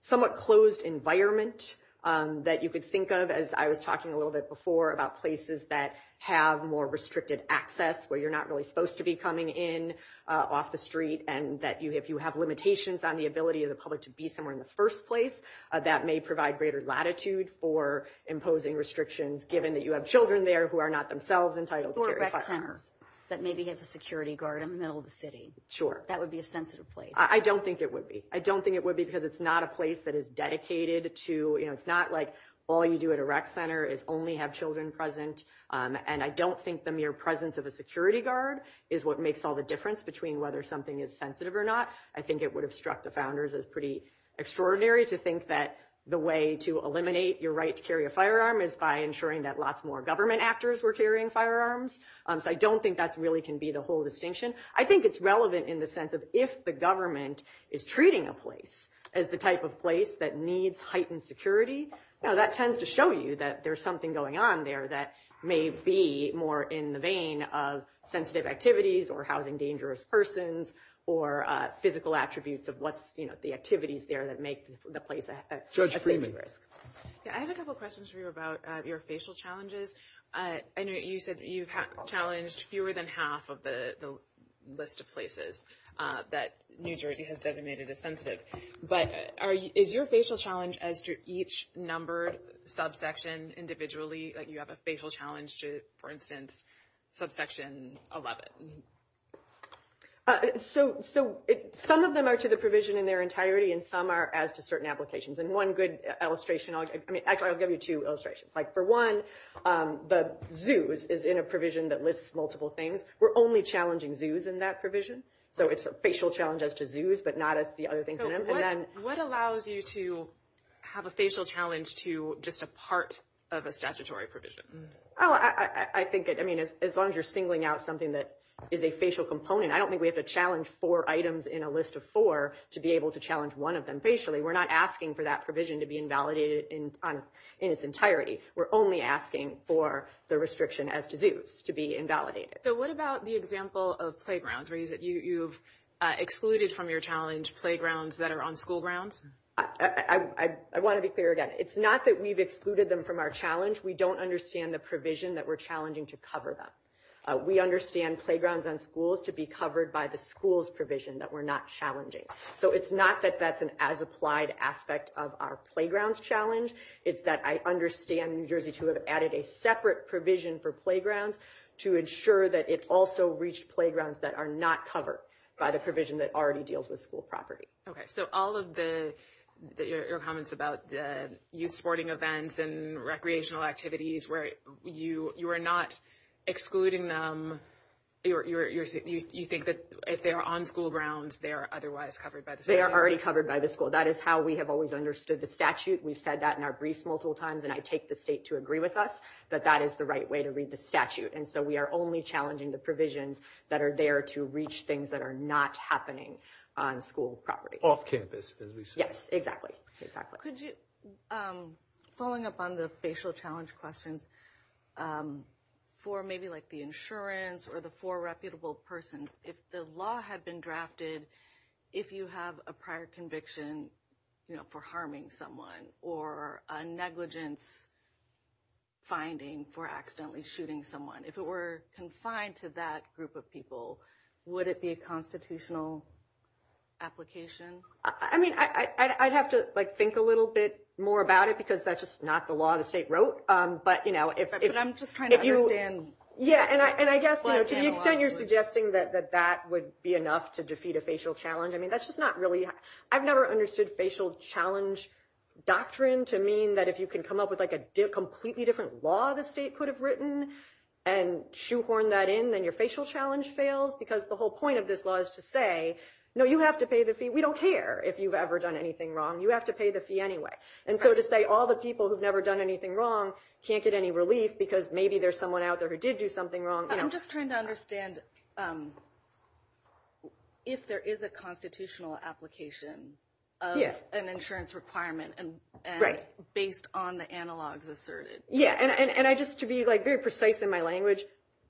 somewhat closed environment that you could think of, as I was talking a little bit before, about places that have more restricted access where you're not really supposed to be coming in off the street and that if you have limitations on the ability of the public to be somewhere in the first place, that may provide greater latitude for imposing restrictions, given that you have children there who are not themselves entitled to carry firearms. And so I think if the court is thinking about it more from the perspective of, well, if you have a child in a rec center that maybe has a security guard in the middle of the city, that would be a sensitive place. I don't think it would be. I don't think it would be because it's not a place that is dedicated to, you know, it's not like all you do at a rec center is only have children present. And I don't think the mere presence of a security guard is what makes all the difference between whether something is sensitive or not. I think it would have struck the founders as pretty extraordinary to think that the way to eliminate your right to carry a firearm is by ensuring that lots more government actors were carrying firearms. So I don't think that really can be the whole distinction. I think it's relevant in the sense of if the government is treating a place as the type of place that needs heightened security, that tends to show you that there's something going on there that may be more in the vein of sensitive activities or housing dangerous persons or physical attributes of what's, you know, the activities there that make the place a sensitive place. Judge Freeman. Yeah, I have a couple questions for you about your facial challenges. I know you said that you challenged fewer than half of the list of places that New Jersey has designated as sensitive. But is your facial challenge as to each numbered subsection individually, like you have a facial challenge to, for instance, subsection 11? So some of them are to the provision in their entirety, and some are as to certain applications. And one good illustration, I mean, actually I'll give you two illustrations. Like for one, the zoos is in a provision that lists multiple things. We're only challenging zoos in that provision. So it's a facial challenge as to zoos, but not as to the other things in it. And then what allows you to have a facial challenge to just a part of a statutory provision? I think, I mean, as long as you're singling out something that is a facial component, I don't think we have to challenge four items in a list of four to be able to challenge one of them facially. We're not asking for that provision to be invalidated in its entirety. We're only asking for the restriction as to zoos to be invalidated. So what about the example of playgrounds? Are you saying that you've excluded from your challenge playgrounds that are on school grounds? I want to be clear again. It's not that we've excluded them from our challenge. We don't understand the provision that we're challenging to cover them. We understand playgrounds on schools to be covered by the school's provision that we're not challenging. So it's not that that's an as-applied aspect of our playgrounds challenge. It's that I understand New Jersey to have added a separate provision for playgrounds to ensure that it also reached playgrounds that are not covered by the provision that already deals with school property. Okay. So all of your comments about the youth sporting events and recreational activities, where you are not excluding them, you think that if they are on school grounds, they are otherwise covered by the school? They are already covered by the school. That is how we have always understood the statute. We've said that in our briefs multiple times, and I take the state to agree with us, that that is the right way to read the statute. And so we are only challenging the provisions that are there to reach things that are not happening on school property. Yes, exactly, exactly. Could you, following up on the facial challenge question, for maybe like the insurance or the four reputable persons, if the law had been drafted, if you have a prior conviction, you know, for harming someone or a negligent finding for accidentally shooting someone, if it were confined to that group of people, would it be a constitutional application? I mean, I'd have to like think a little bit more about it because that's just not the law the state wrote. But, you know, if you – But I'm just trying to understand – Yeah, and I guess, you know, to the extent you're suggesting that that would be enough to defeat a facial challenge, I mean, that's just not really – I've never understood facial challenge doctrine to mean that if you can come up with like a completely different law the state could have written and shoehorn that in, then your facial challenge fails. Because the whole point of this law is to say, no, you have to pay the fee. We don't care if you've ever done anything wrong. You have to pay the fee anyway. And so to say all the people who've never done anything wrong can't get any relief because maybe there's someone out there who did do something wrong, you know. I'm just trying to understand if there is a constitutional application of an insurance requirement based on the analogs asserted. Yeah, and I just – to be like very precise in my language,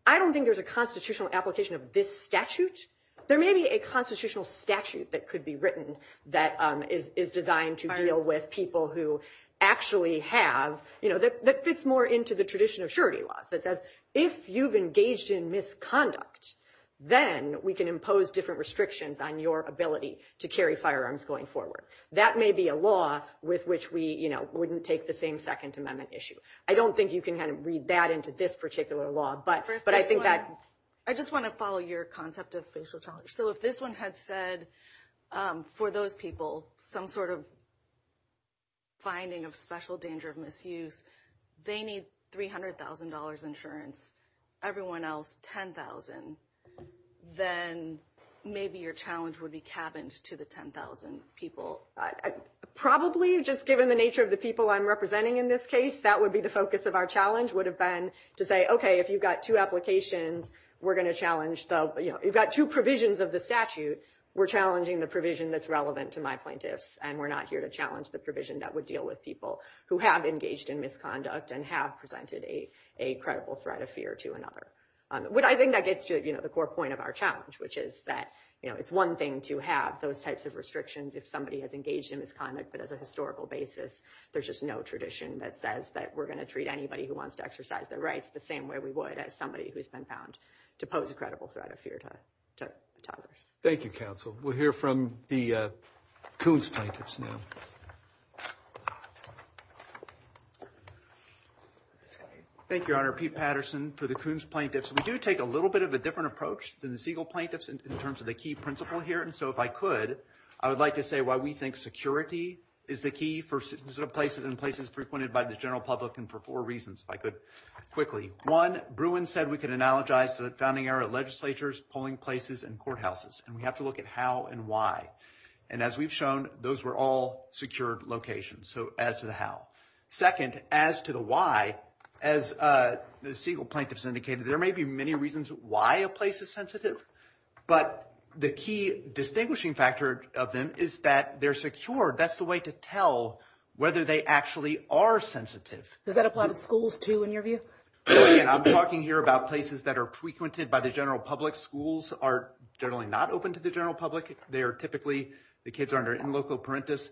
I don't think there's a constitutional application of this statute. There may be a constitutional statute that could be written that is designed to deal with people who actually have – you know, that fits more into the tradition of surety laws. It says if you've engaged in misconduct, then we can impose different restrictions on your ability to carry firearms going forward. That may be a law with which we, you know, wouldn't take the same Second Amendment issue. I don't think you can kind of read that into this particular law, but I think that – I just want to follow your concept of facial challenge. So if this one had said for those people some sort of finding of special danger of misuse, they need $300,000 insurance, everyone else $10,000, then maybe your challenge would be cabined to the 10,000 people. Probably, just given the nature of the people I'm representing in this case, that would be the focus of our challenge would have been to say, okay, if you've got two applications, we're going to challenge – you've got two provisions of the statute, we're challenging the provision that's relevant to my plaintiffs, and we're not here to challenge the provision that would deal with people who have engaged in misconduct and have presented a credible threat of fear to another. I think that gets to the core point of our challenge, which is that it's one thing to have those types of restrictions if somebody has engaged in misconduct, but as a historical basis, there's just no tradition that says that we're going to treat anybody who wants to exercise their rights the same way we would as somebody who has been found to pose a credible threat of fear to others. Thank you, Counsel. We'll hear from the Coons plaintiffs now. Thank you, Your Honor. Pete Patterson for the Coons plaintiffs. We do take a little bit of a different approach than the Siegel plaintiffs in terms of the key principle here, and so if I could, I would like to say why we think security is the key for sensitive places and places frequented by the general public and for four reasons, if I could quickly. One, Bruin said we can analogize to the founding era legislatures, polling places, and courthouses, and we have to look at how and why. And as we've shown, those were all secure locations, so as to the how. Second, as to the why, as the Siegel plaintiffs indicated, there may be many reasons why a place is sensitive, but the key distinguishing factor of them is that they're secure. That's the way to tell whether they actually are sensitive. Does that apply to schools, too, in your view? I'm talking here about places that are frequented by the general public. Schools are generally not open to the general public. They are typically the kids are under in loco parentis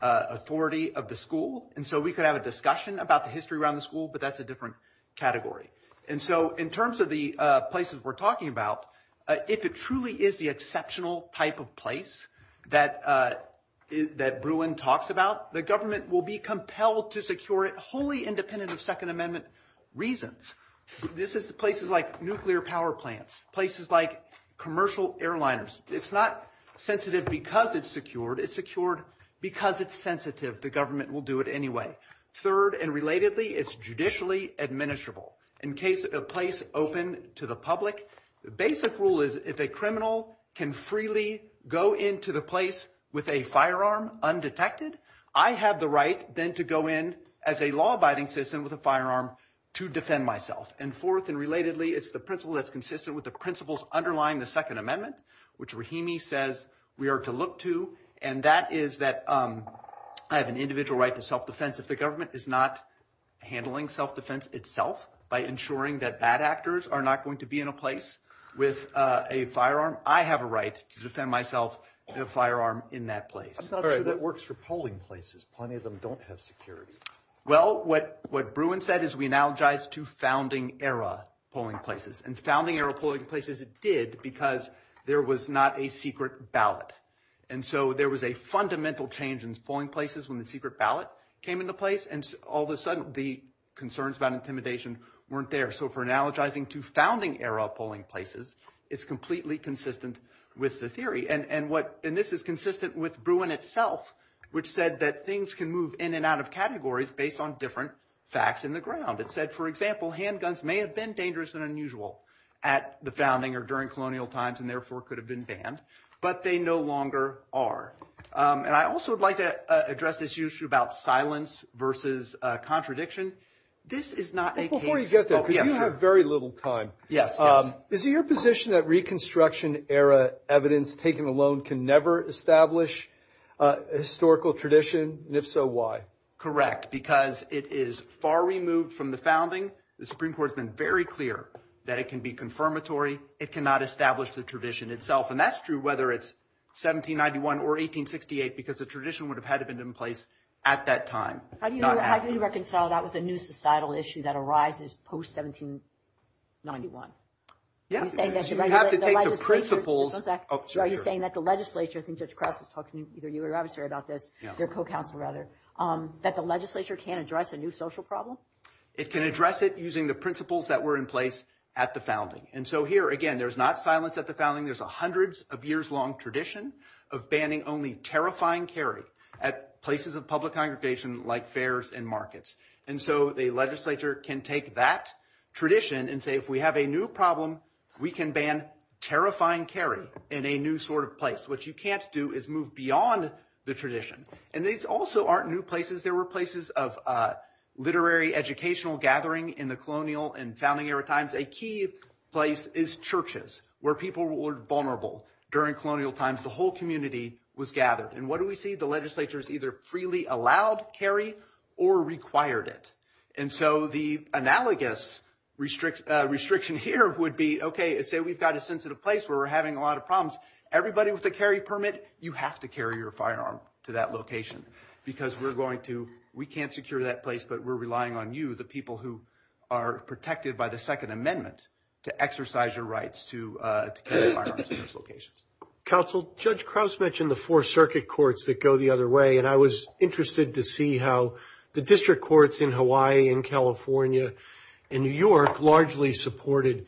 authority of the school, and so we could have a discussion about the history around the school, but that's a different category. And so in terms of the places we're talking about, if it truly is the exceptional type of place that Bruin talks about, the government will be compelled to secure it wholly independent of Second Amendment reasons. This is places like nuclear power plants, places like commercial airliners. It's not sensitive because it's secured. It's secured because it's sensitive. The government will do it anyway. Third and relatedly, it's judicially administrable. In case a place is open to the public, the basic rule is if a criminal can freely go into the place with a firearm undetected, I have the right then to go in as a law-abiding citizen with a firearm to defend myself. And fourth and relatedly, it's the principle that's consistent with the principles underlying the Second Amendment, which Rahimi says we are to look to, and that is that I have an individual right to self-defense. If the government is not handling self-defense itself by ensuring that bad actors are not going to be in a place with a firearm, I have a right to defend myself with a firearm in that place. I'm not sure that works for polling places. Plenty of them don't have security. Well, what Bruin said is we analogize to founding era polling places, and founding era polling places it did because there was not a secret ballot. And so there was a fundamental change in polling places when the secret ballot came into place, and all of a sudden the concerns about intimidation weren't there. So for analogizing to founding era polling places, it's completely consistent with the theory. And this is consistent with Bruin itself, which said that things can move in and out of categories based on different facts in the ground. It said, for example, handguns may have been dangerous and unusual at the founding or during colonial times and therefore could have been banned, but they no longer are. And I also would like to address this issue about silence versus contradiction. This is not a case of – Before you get there, because you have very little time. Yes, yes. Is it your position that reconstruction era evidence taken alone can never establish a historical tradition, and if so, why? Correct, because it is far removed from the founding. The Supreme Court has been very clear that it can be confirmatory. It cannot establish the tradition itself, and that's true whether it's 1791 or 1868 because the tradition would have had to have been in place at that time, not after. How do you reconcile that with a new societal issue that arises post-1791? Yes. You have to take the principles of – So are you saying that the legislature – I think Judge Kress was talking, either you or your advisor about this, their co-counsel, rather – that the legislature can't address a new social problem? It can address it using the principles that were in place at the founding. And so here, again, there's not silence at the founding. There's a hundreds-of-years-long tradition of banning only terrifying carry at places of public congregation like fairs and markets. And so the legislature can take that tradition and say, if we have a new problem, we can ban terrifying carry in a new sort of place. What you can't do is move beyond the tradition. And these also aren't new places. They were places of literary educational gathering in the colonial and founding era times. A key place is churches where people were vulnerable during colonial times. The whole community was gathered. And what do we see? The legislature has either freely allowed carry or required it. And so the analogous restriction here would be, okay, say we've got a sensitive place where we're having a lot of problems. Everybody with a carry permit, you have to carry your firearm to that location because we can't secure that place but we're relying on you, the people who are protected by the Second Amendment, to exercise your rights to carry firearms in those locations. Counsel, Judge Krauss mentioned the four circuit courts that go the other way, and I was interested to see how the district courts in Hawaii and California and New York largely supported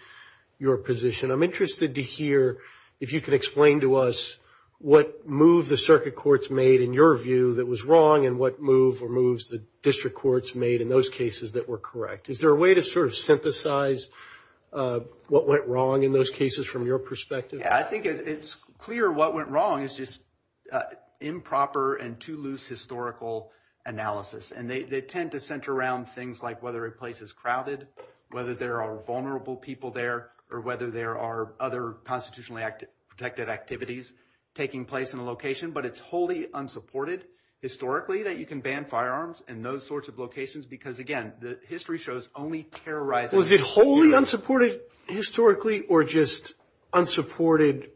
your position. I'm interested to hear if you can explain to us what move the circuit courts made in your view that was wrong and what move or moves the district courts made in those cases that were correct. Is there a way to sort of synthesize what went wrong in those cases from your perspective? Yeah, I think it's clear what went wrong is just improper and too loose historical analysis. And they tend to center around things like whether a place is crowded, whether there are vulnerable people there, or whether there are other constitutionally protected activities taking place in the location. But it's wholly unsupported historically that you can ban firearms in those sorts of locations because, again, the history shows only terrorizing. Was it wholly unsupported historically or just unsupported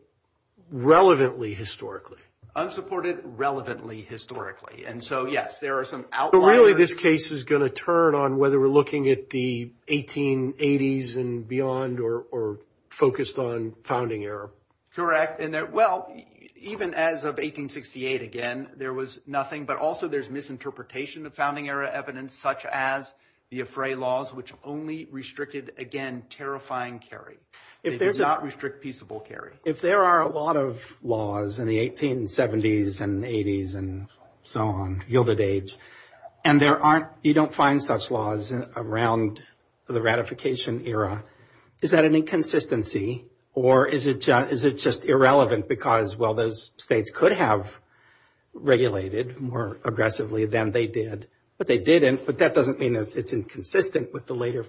relevantly historically? Unsupported relevantly historically. And so, yes, there are some outliers. However, this case is going to turn on whether we're looking at the 1880s and beyond or focused on founding era. Correct. Well, even as of 1868, again, there was nothing. But also there's misinterpretation of founding era evidence such as the Afrae laws, which only restricted, again, terrifying carry. They did not restrict peaceable carry. If there are a lot of laws in the 1870s and 80s and so on, yielded age, and you don't find such laws around the ratification era, is that an inconsistency or is it just irrelevant because, well, those states could have regulated more aggressively than they did. But they didn't. But that doesn't mean it's inconsistent with the later.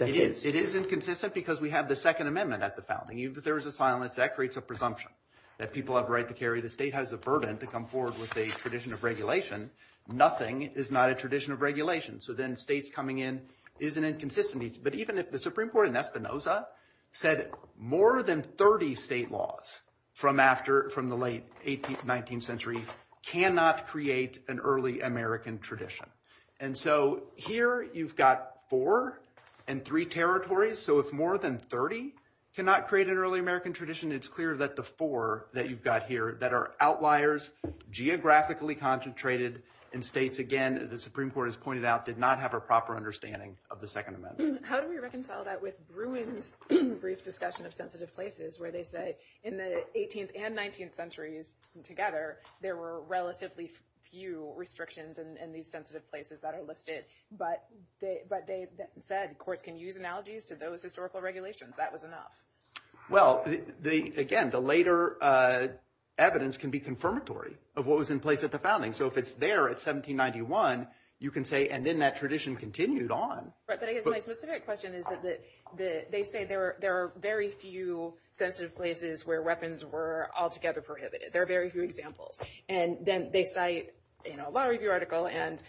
It is inconsistent because we have the Second Amendment at the founding. Even if there is a silence, that creates a presumption that people have a right to carry. The state has the burden to come forward with a tradition of regulation. Nothing is not a tradition of regulation. So then states coming in is an inconsistency. But even if the Supreme Court in Espinoza said more than 30 state laws from the late 18th, 19th century cannot create an early American tradition. And so here you've got four and three territories. So if more than 30 cannot create an early American tradition, it's clear that the four that you've got here that are outliers, geographically concentrated, and states, again, as the Supreme Court has pointed out, did not have a proper understanding of the Second Amendment. How do we reconcile that with Bruin's brief discussion of sensitive places where they said in the 18th and 19th centuries together, there were relatively few restrictions in these sensitive places that are listed, but they said courts can use analogies to those historical regulations. That was enough. Well, again, the later evidence can be confirmatory of what was in place at the founding. So if it's there at 1791, you can say, and then that tradition continued on. But I guess my specific question is that they say there are very few sensitive places where weapons were altogether prohibited. There are very few examples. And then they cite a law review article, and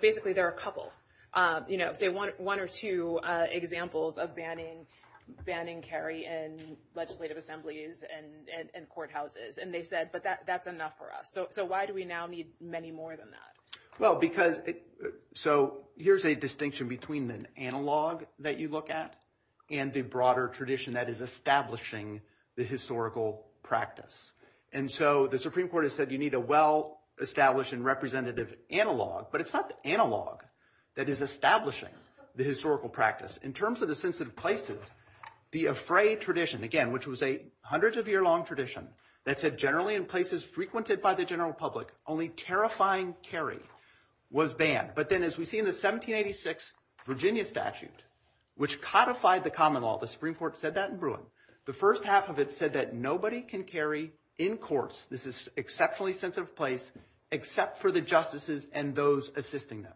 basically there are a couple. They want one or two examples of banning carry in legislative assemblies and courthouses. And they said, but that's enough for us. So why do we now need many more than that? Well, because – so here's a distinction between an analog that you look at and the broader tradition that is establishing the historical practice. And so the Supreme Court has said you need a well-established and representative analog, but it's not the analog that is establishing the historical practice. In terms of the sensitive places, the affray tradition, again, which was a hundreds-of-year-long tradition, that said generally in places frequented by the general public, only terrifying carry was banned. But then as we see in the 1786 Virginia statute, which codified the common law, the Supreme Court said that in Bruin, the first half of it said that nobody can carry in courts – this is exceptionally sensitive place – except for the justices and those assisting them.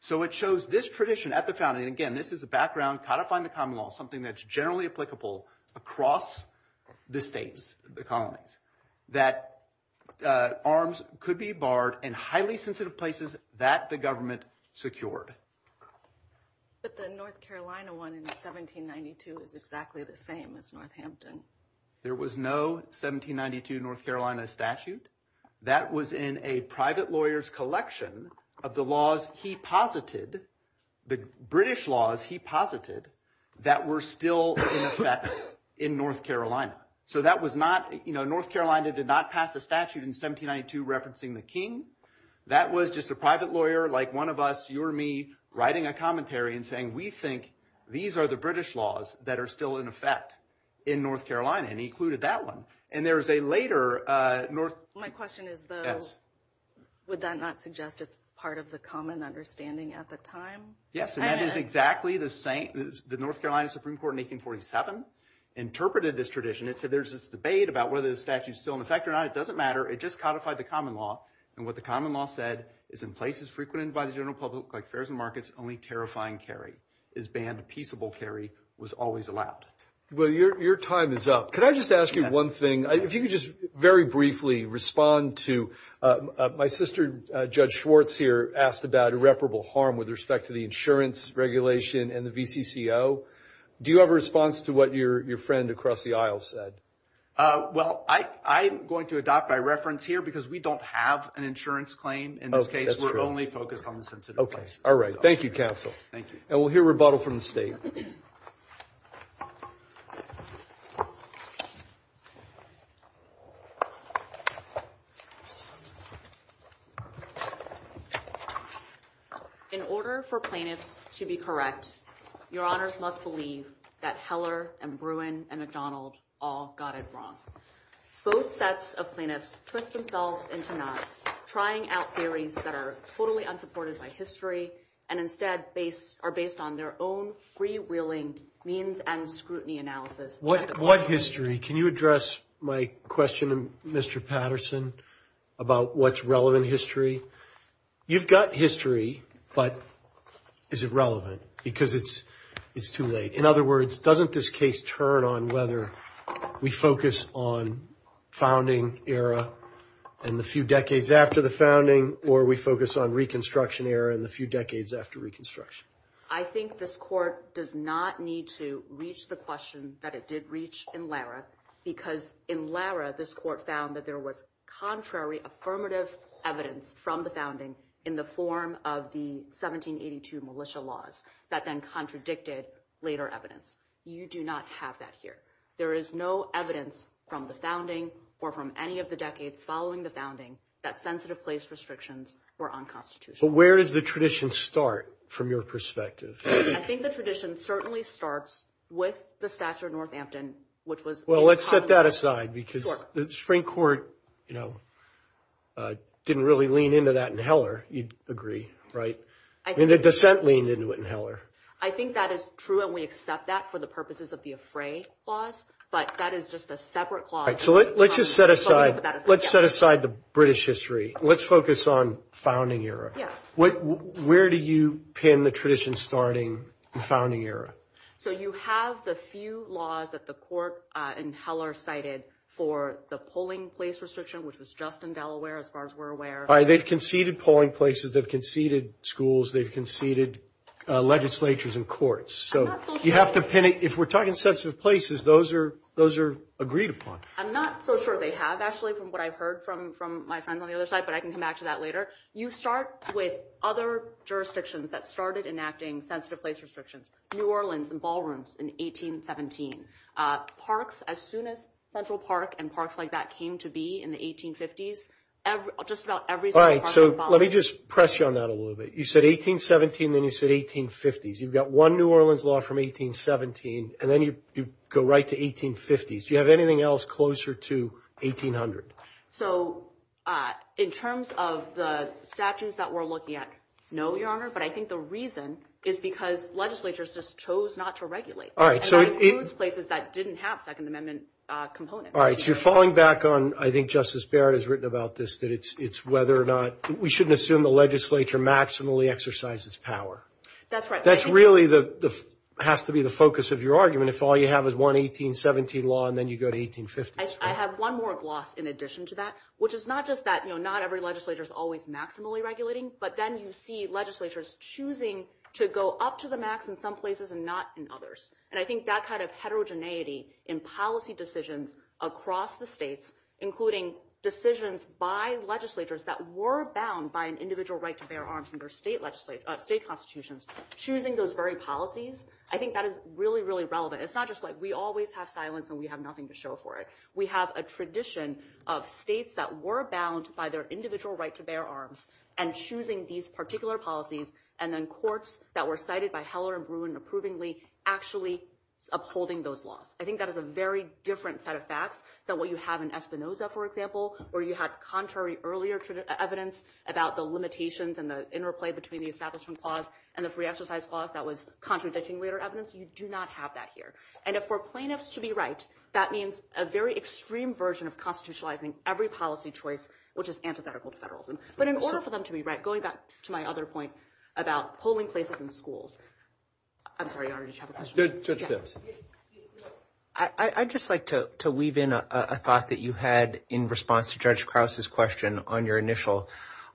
So it shows this tradition at the founding – again, this is a background, codifying the common law, something that's generally applicable across the states, the colonies – that arms could be barred in highly sensitive places that the government secured. But the North Carolina one in 1792 is exactly the same as Northampton. There was no 1792 North Carolina statute. That was in a private lawyer's collection of the laws he posited, the British laws he posited, that were still in effect in North Carolina. So that was not – North Carolina did not pass a statute in 1792 referencing the king. That was just a private lawyer like one of us, you or me, writing a commentary and saying, we think these are the British laws that are still in effect in North Carolina, and he included that one. And there is a later – My question is, though, would that not suggest it's part of the common understanding at the time? Yes, and that is exactly the same – the North Carolina Supreme Court in 1847 interpreted this tradition. It said there's this debate about whether the statute is still in effect or not. It doesn't matter. It just codified the common law, and what the common law said is, in places frequented by the general public like fairs and markets, only terrifying carry is banned. Peaceable carry was always allowed. Well, your time is up. Could I just ask you one thing? If you could just very briefly respond to – my sister, Judge Schwartz here, asked about irreparable harm with respect to the insurance regulation and the VTCO. Do you have a response to what your friend across the aisle said? Well, I'm going to adopt my reference here because we don't have an insurance claim. In this case, we're only focused on the sensitive case. Okay. All right. Thank you, counsel. Thank you. And we'll hear rebuttal from the State. In order for plaintiffs to be correct, your honors must believe that Heller and Bruin and McDonald all got it wrong. Both sets of plaintiffs twist themselves into knots, trying out theories that are totally unsupported by history and instead are based on their own freewheeling means and scrutiny analysis. What history? Can you address my question to Mr. Patterson about what's relevant history? You've got history, but is it relevant? Because it's too late. In other words, doesn't this case turn on whether we focus on founding era and the few decades after the founding or we focus on reconstruction era and the few decades after reconstruction? I think this court does not need to reach the question that it did reach in Lara because in Lara, this court found that there was contrary affirmative evidence from the founding in the form of the 1782 militia laws that then contradicted later evidence. You do not have that here. There is no evidence from the founding or from any of the decades following the founding that sensitive place restrictions were unconstitutional. But where does the tradition start from your perspective? I think the tradition certainly starts with the statute of Northampton, which was— Well, let's set that aside because the Supreme Court didn't really lean into that in Heller. You'd agree, right? And the dissent leaned into it in Heller. I think that is true and we accept that for the purposes of the Afray clause, but that is just a separate clause. All right, so let's just set aside the British history. Let's focus on founding era. Where do you pin the tradition starting in founding era? So you have the few laws that the court in Heller cited for the polling place restriction, which was just in Delaware as far as we're aware. They've conceded polling places. They've conceded schools. They've conceded legislatures and courts. If we're talking sensitive places, those are agreed upon. I'm not so sure they have, actually, from what I've heard from my friends on the other side, but I can come back to that later. You start with other jurisdictions that started enacting sensitive place restrictions, New Orleans and ballrooms in 1817. Parks, as soon as Central Park and parks like that came to be in the 1850s, just about every— All right, so let me just press you on that a little bit. You said 1817, then you said 1850s. You've got one New Orleans law from 1817, and then you go right to 1850s. Do you have anything else closer to 1800? So in terms of the statutes that we're looking at, no, Your Honor, but I think the reason is because legislatures just chose not to regulate. All right, so— And that includes places that didn't have Second Amendment components. All right, so you're falling back on, I think Justice Barrett has written about this, that it's whether or not—we shouldn't assume the legislature maximally exercises power. That's right. That really has to be the focus of your argument if all you have is one 1817 law, and then you go to 1850s. I have one more gloss in addition to that, which is not just that not every legislature is always maximally regulating, but then you see legislatures choosing to go up to the max in some places and not in others. And I think that kind of heterogeneity in policy decisions across the states, including decisions by legislatures that were bound by an individual right to bear arms under state constitutions, choosing those very policies, I think that is really, really relevant. It's not just like we always have silence and we have nothing to show for it. We have a tradition of states that were bound by their individual right to bear arms and choosing these particular policies, and then courts that were cited by Heller and Bruin approvingly actually upholding those laws. I think that is a very different set of facts than what you have in Espinoza, for example, where you have contrary earlier evidence about the limitations and the interplay between the Establishment Clause and the Free Exercise Clause that was contradicting later evidence. You do not have that here. And if we're plaintiffs to be right, that means a very extreme version of constitutionalizing every policy choice, which is antithetical to federalism. But in order for them to be right, going back to my other point about polling places in schools, I'm sorry, I already jumped. I'd just like to weave in a thought that you had in response to Judge Krause's question on your initial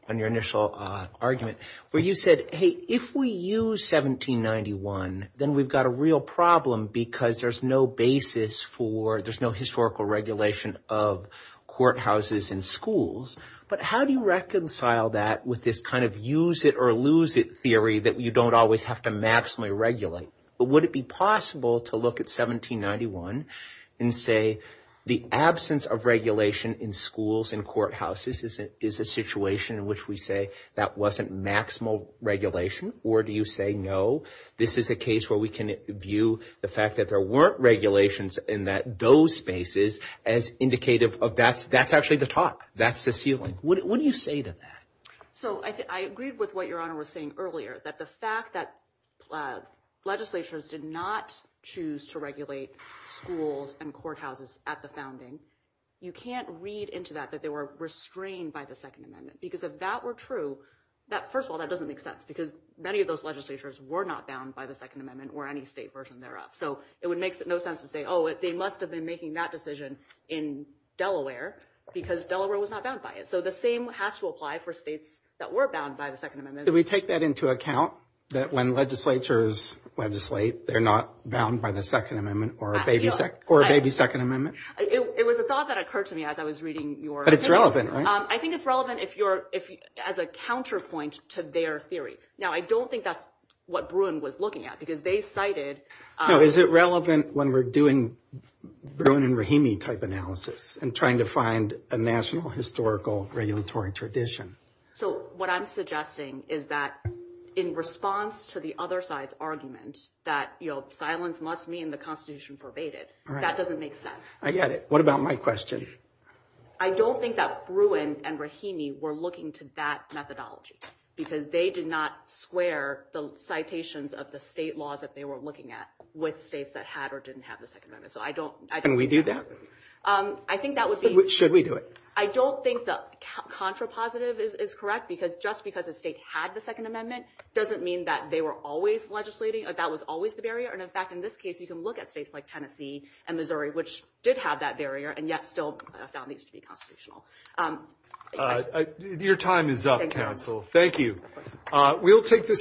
argument, where you said, hey, if we use 1791, then we've got a real problem because there's no basis for, there's no historical regulation of courthouses in schools. But how do you reconcile that with this kind of use it or lose it theory that you don't always have to maximally regulate? But would it be possible to look at 1791 and say the absence of regulation in schools and courthouses is a situation in which we say that wasn't maximal regulation? Or do you say, no, this is a case where we can view the fact that there weren't regulations in those spaces as indicative of that's actually the talk, that's the ceiling? What do you say to that? So I agree with what Your Honor was saying earlier, that the fact that legislatures did not choose to regulate schools and courthouses at the founding, you can't read into that that they were restrained by the Second Amendment. Because if that were true, first of all, that doesn't make sense because many of those legislatures were not bound by the Second Amendment or any state version thereof. So it would make no sense to say, oh, they must have been making that decision in Delaware because Delaware was not bound by it. So the same has to apply for states that were bound by the Second Amendment. Did we take that into account, that when legislatures legislate, they're not bound by the Second Amendment or maybe Second Amendment? It was a thought that occurred to me as I was reading your theory. But it's relevant, right? I think it's relevant as a counterpoint to their theory. Now, I don't think that's what Bruin was looking at because they cited... Is it relevant when we're doing Bruin and Rahimi type analysis and trying to find a national historical regulatory tradition? So what I'm suggesting is that in response to the other side's argument that silence must mean the Constitution pervaded, that doesn't make sense. I get it. What about my question? I don't think that Bruin and Rahimi were looking to that methodology because they did not square the citations of the state laws that they were looking at with states that had or didn't have the Second Amendment. So I don't... Can we do that? I think that would be... Should we do it? I don't think that contrapositive is correct because just because a state had the Second Amendment doesn't mean that they were always legislating or that was always the barrier. And, in fact, in this case, you can look at states like Tennessee and Missouri, which did have that barrier and yet still found these to be constitutional. Your time is up, counsel. Thank you. Thank you. Thank you.